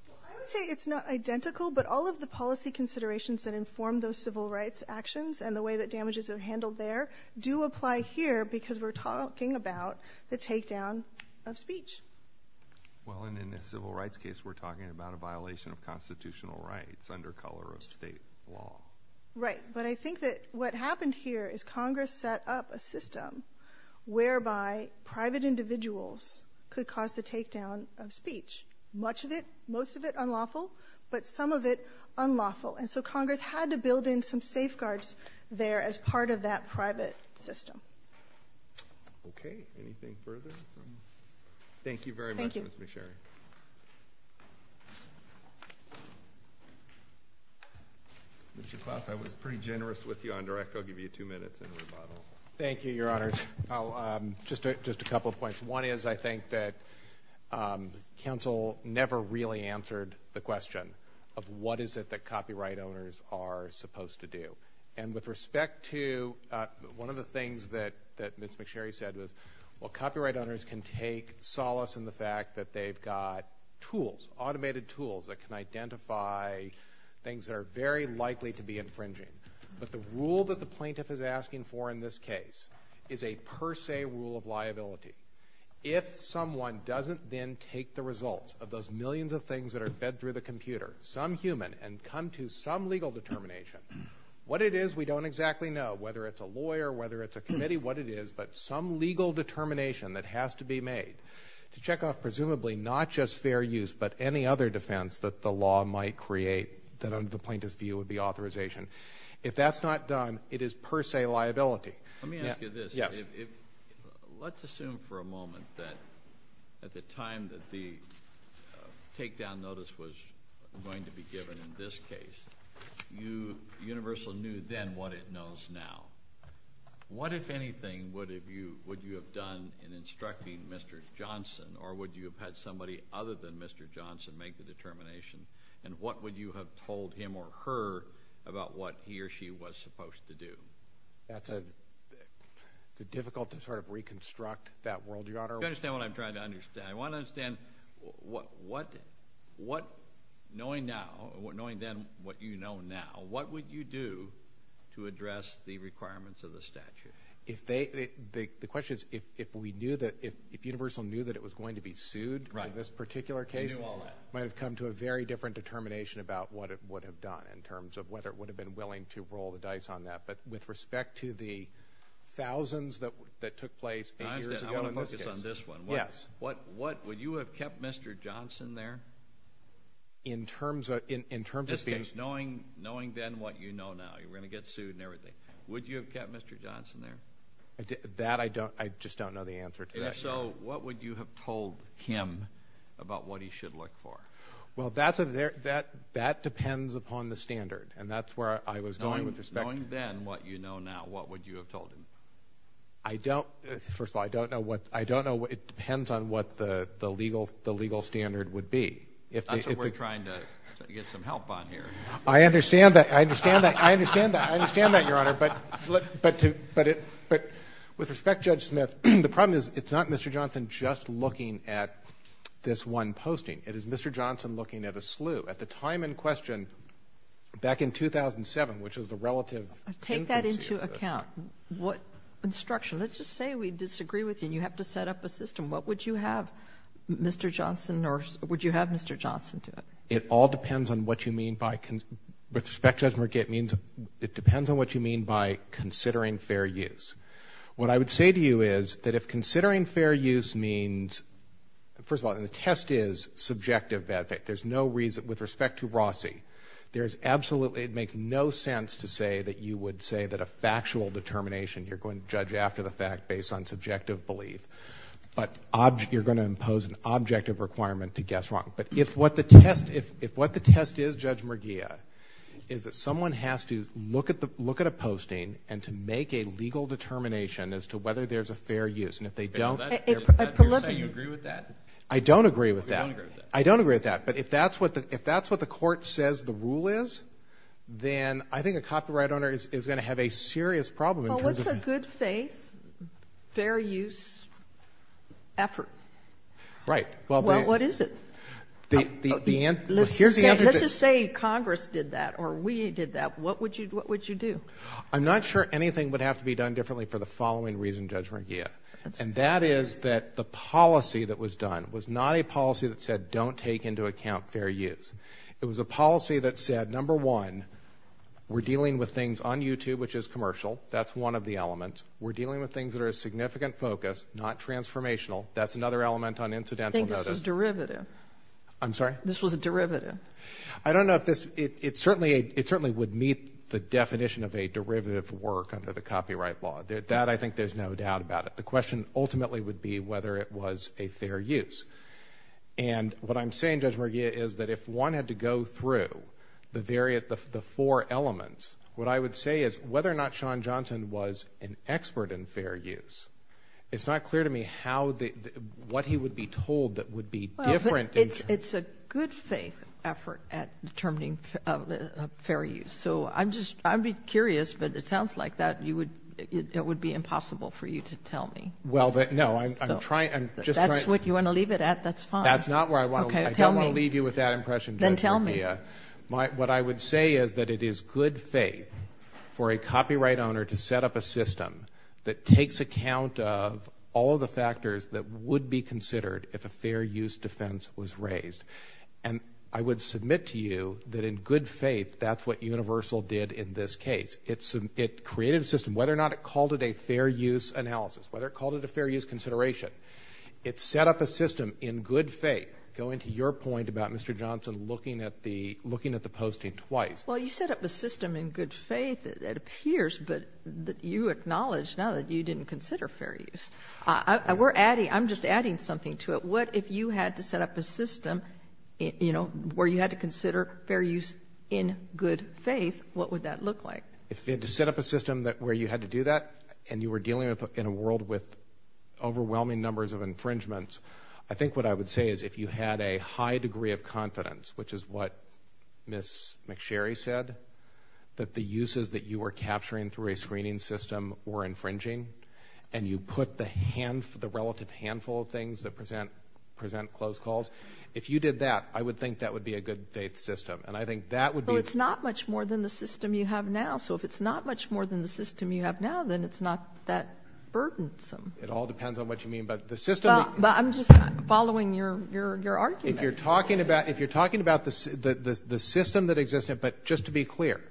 I would say it's not identical, but all of the policy considerations that inform those civil rights actions and the way that damages are handled there do apply here because we're talking about the takedown of speech. Well, and in the civil rights case, we're talking about a violation of constitutional rights under colorist state law. Right, but I think that what happened here is Congress set up a system whereby private individuals could cause the takedown of speech. Much of it, most of it unlawful, but some of it unlawful. And so Congress had to build in some safeguards there as part of that private system. Okay, anything further? Thank you very much. Thank you. I was pretty generous with you on direct. I'll give you two minutes and a rebuttal. Thank you, Your Honor. Just a couple of points. One is I think that counsel never really answered the question of what is it that copyright owners are supposed to do. And with respect to one of the things that Ms. McSherry said was, well, copyright owners can take solace in the fact that they've got tools, automated tools that can identify things that are very likely to be infringing. But the rule that the plaintiff is asking for in this case is a per se rule of liability. If someone doesn't then take the results of those millions of things that are fed through the computer, some human, and come to some legal determination, what it is we don't exactly know, whether it's a lawyer, whether it's a committee, what it is, but some legal determination that has to be made to check off presumably not just fair use but any other defense that the law might create that under the plaintiff's view would be authorization. If that's not done, it is per se liability. Let me ask you this. Let's assume for a moment that at the time that the takedown notice was going to be given in this case, Universal knew then what it knows now. What, if anything, would you have done in instructing Mr. Johnson, or would you have had somebody other than Mr. Johnson make the determination, and what would you have told him or her about what he or she was supposed to do? Is it difficult to sort of reconstruct that world? Do you understand what I'm trying to understand? I want to understand what, knowing then what you know now, what would you do to address the requirements of the statute? The question is if Universal knew that it was going to be sued in this particular case, it might have come to a very different determination about what it would have done in terms of whether it would have been willing to roll the dice on that. But with respect to the thousands that took place eight years ago in this case— I want to focus on this one. Yes. Would you have kept Mr. Johnson there? In terms of— Just because knowing then what you know now, you're going to get sued and everything. Would you have kept Mr. Johnson there? That I just don't know the answer to that yet. If so, what would you have told him about what he should look for? Well, that depends upon the standard, and that's where I was going with respect to— Knowing then what you know now, what would you have told him? First of all, I don't know. It depends on what the legal standard would be. That's what we're trying to get some help on here. I understand that, Your Honor. But with respect, Judge Smith, the problem is it's not Mr. Johnson just looking at this one posting. It is Mr. Johnson looking at a slew. At the time in question, back in 2007, which is the relative— Take that into account. What instruction? Let's just say we disagree with you. You have to set up a system. What would you have Mr. Johnson—would you have Mr. Johnson do? It all depends on what you mean by— With respect, Judge Merkitt, it depends on what you mean by considering fair use. What I would say to you is that if considering fair use means— There's no reason—with respect to Rossi, there's absolutely— It makes no sense to say that you would say that a factual determination, you're going to judge after the fact based on subjective belief. But you're going to impose an objective requirement to guess wrong. But if what the test is, Judge Merguia, is that someone has to look at a posting and to make a legal determination as to whether there's a fair use, and if they don't— Do you agree with that? I don't agree with that. You don't agree with that. I don't agree with that. But if that's what the court says the rule is, then I think a copyright owner is going to have a serious problem in terms of— Well, what's a good faith, fair use effort? Right. Well, what is it? The answer— Let's just say Congress did that or we did that. What would you do? I'm not sure anything would have to be done differently for the following reason, Judge Merguia, and that is that the policy that was done was not a policy that said don't take into account fair use. It was a policy that said, number one, we're dealing with things on YouTube, which is commercial. That's one of the elements. We're dealing with things that are a significant focus, not transformational. That's another element on incidental notice. I think this is derivative. I'm sorry? This was a derivative. I don't know if this— It certainly would meet the definition of a derivative work under the copyright law. That I think there's no doubt about it. The question ultimately would be whether it was a fair use. And what I'm saying, Judge Merguia, is that if one had to go through the four elements, what I would say is whether or not Sean Johnson was an expert in fair use, it's not clear to me what he would be told that would be different— It's a good faith effort at determining fair use. I'd be curious, but it sounds like that would be impossible for you to tell me. That's what you want to leave it at? That's fine. I don't want to leave you with that impression, Judge Merguia. What I would say is that it is good faith for a copyright owner to set up a system that takes account of all the factors that would be considered if a fair use defense was raised. And I would submit to you that in good faith, that's what Universal did in this case. It created a system. Whether or not it called it a fair use analysis, whether it called it a fair use consideration, it set up a system in good faith. Going to your point about Mr. Johnson looking at the posting twice— Well, you set up the system in good faith, it appears, but you acknowledge now that you didn't consider fair use. I'm just adding something to it. What if you had to set up a system where you had to consider fair use in good faith, what would that look like? If you had to set up a system where you had to do that and you were dealing in a world with overwhelming numbers of infringements, I think what I would say is if you had a high degree of confidence, which is what Ms. McSherry said, that the uses that you were capturing through a screening system were infringing and you put the relative handful of things that present close calls, if you did that, I would think that would be a good faith system. It's not much more than the system you have now, so if it's not much more than the system you have now, then it's not that burdensome. It all depends on what you mean by the system. I'm just following your argument. If you're talking about the system that existed, but just to be clear,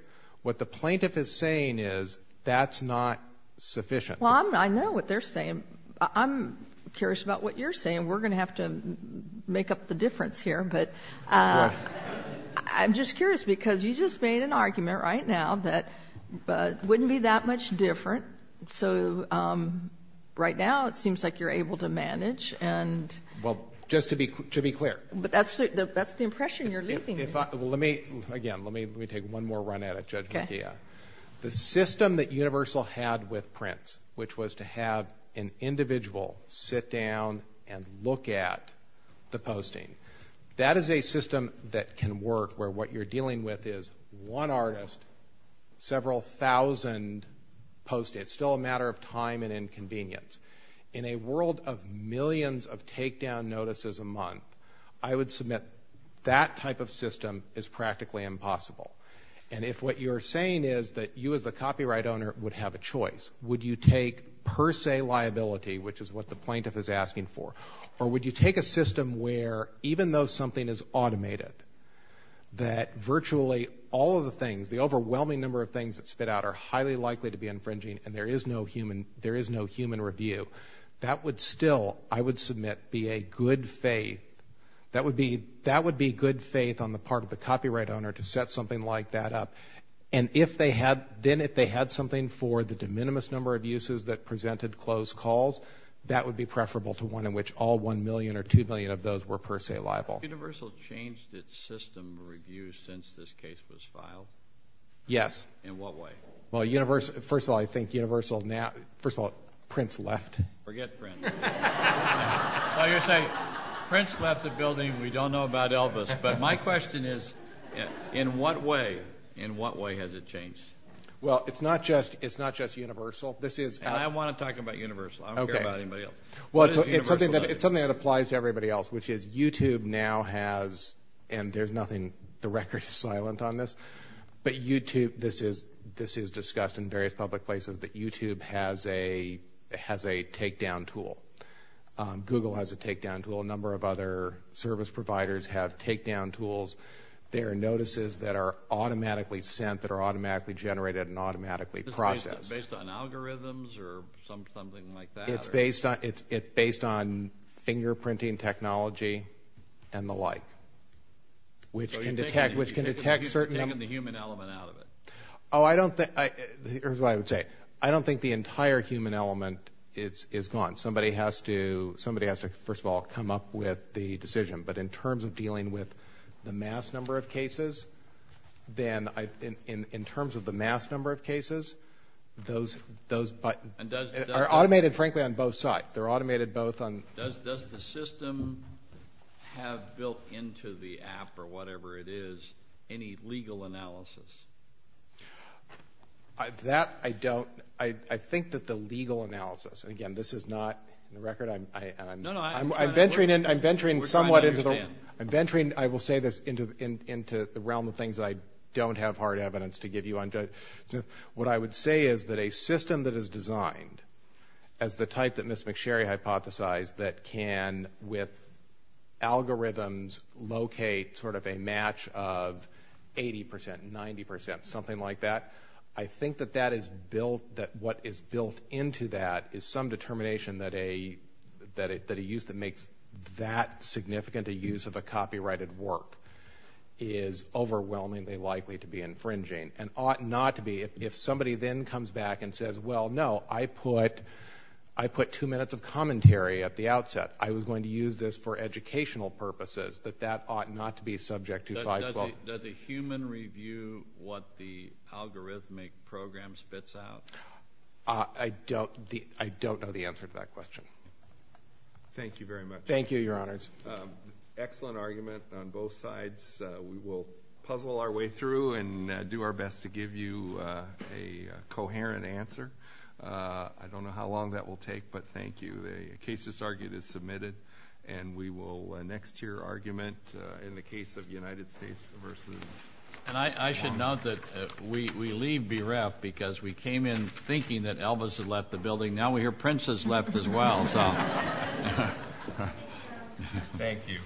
what the plaintiff is saying is that's not sufficient. Well, I know what they're saying. I'm curious about what you're saying. We're going to have to make up the difference here, but I'm just curious because you just made an argument right now that it wouldn't be that much different, so right now it seems like you're able to manage. Well, just to be clear. That's the impression you're leaving me with. Again, let me take one more run at it. The system that Universal had with Prince, which was to have an individual sit down and look at the posting, that is a system that can work where what you're dealing with is one artist, several thousand post-its. It's still a matter of time and inconvenience. In a world of millions of takedown notices a month, I would submit that type of system is practically impossible. And if what you're saying is that you as the copyright owner would have a choice, would you take per se liability, which is what the plaintiff is asking for, or would you take a system where even though something is automated, that virtually all of the things, the overwhelming number of things that spit out are highly likely to be infringing and there is no human review, that would still, I would submit, be a good faith. That would be good faith on the part of the copyright owner to set something like that up. And then if they had something for the de minimis number of uses that presented closed calls, that would be preferable to one in which all one million or two million of those were per se liable. Has Universal changed its system of review since this case was filed? Yes. In what way? Well, first of all, I think Universal now, first of all, Prince left. Forget Prince. Well, you're saying Prince left the building, we don't know about Elvis, but my question is in what way, in what way has it changed? Well, it's not just Universal. I don't want to talk about Universal. I don't care about anybody else. It's something that applies to everybody else, which is YouTube now has, and there's nothing, the record is silent on this, but YouTube, this is discussed in various public places, but YouTube has a takedown tool. Google has a takedown tool. A number of other service providers have takedown tools. They are notices that are automatically sent, that are automatically generated and automatically processed. Based on algorithms or something like that? It's based on fingerprinting technology and the like, which can detect certain things. You're taking the human element out of it. Oh, I don't think, here's what I would say. I don't think the entire human element is gone. Somebody has to, first of all, come up with the decision, but in terms of dealing with the mass number of cases, then in terms of the mass number of cases, those are automated, frankly, on both sides. They're automated both on. Does the system have built into the app or whatever it is any legal analysis? That I don't. I think that the legal analysis, and again, this is not the record. I'm venturing somewhat into the realm of things that I don't have hard evidence to give you on. What I would say is that a system that is designed as the type that Ms. McSherry hypothesized that can, with algorithms, locate sort of a match of 80%, 90%, something like that, I think that what is built into that is some determination that a use that makes that significant a use of a copyrighted work is overwhelmingly likely to be infringing and ought not to be. If somebody then comes back and says, well, no, I put two minutes of commentary at the outset. I was going to use this for educational purposes, that that ought not to be subject to 512. Does a human review what the algorithmic program spits out? I don't know the answer to that question. Thank you very much. Thank you, Your Honors. Excellent argument on both sides. We will puzzle our way through and do our best to give you a coherent answer. I don't know how long that will take, but thank you. The case that's argued is submitted, and we will next hear argument in the case of United States versus. I should note that we leave bereft because we came in thinking that Elvis had left the building. Now we hear Prince has left as well. Thank you.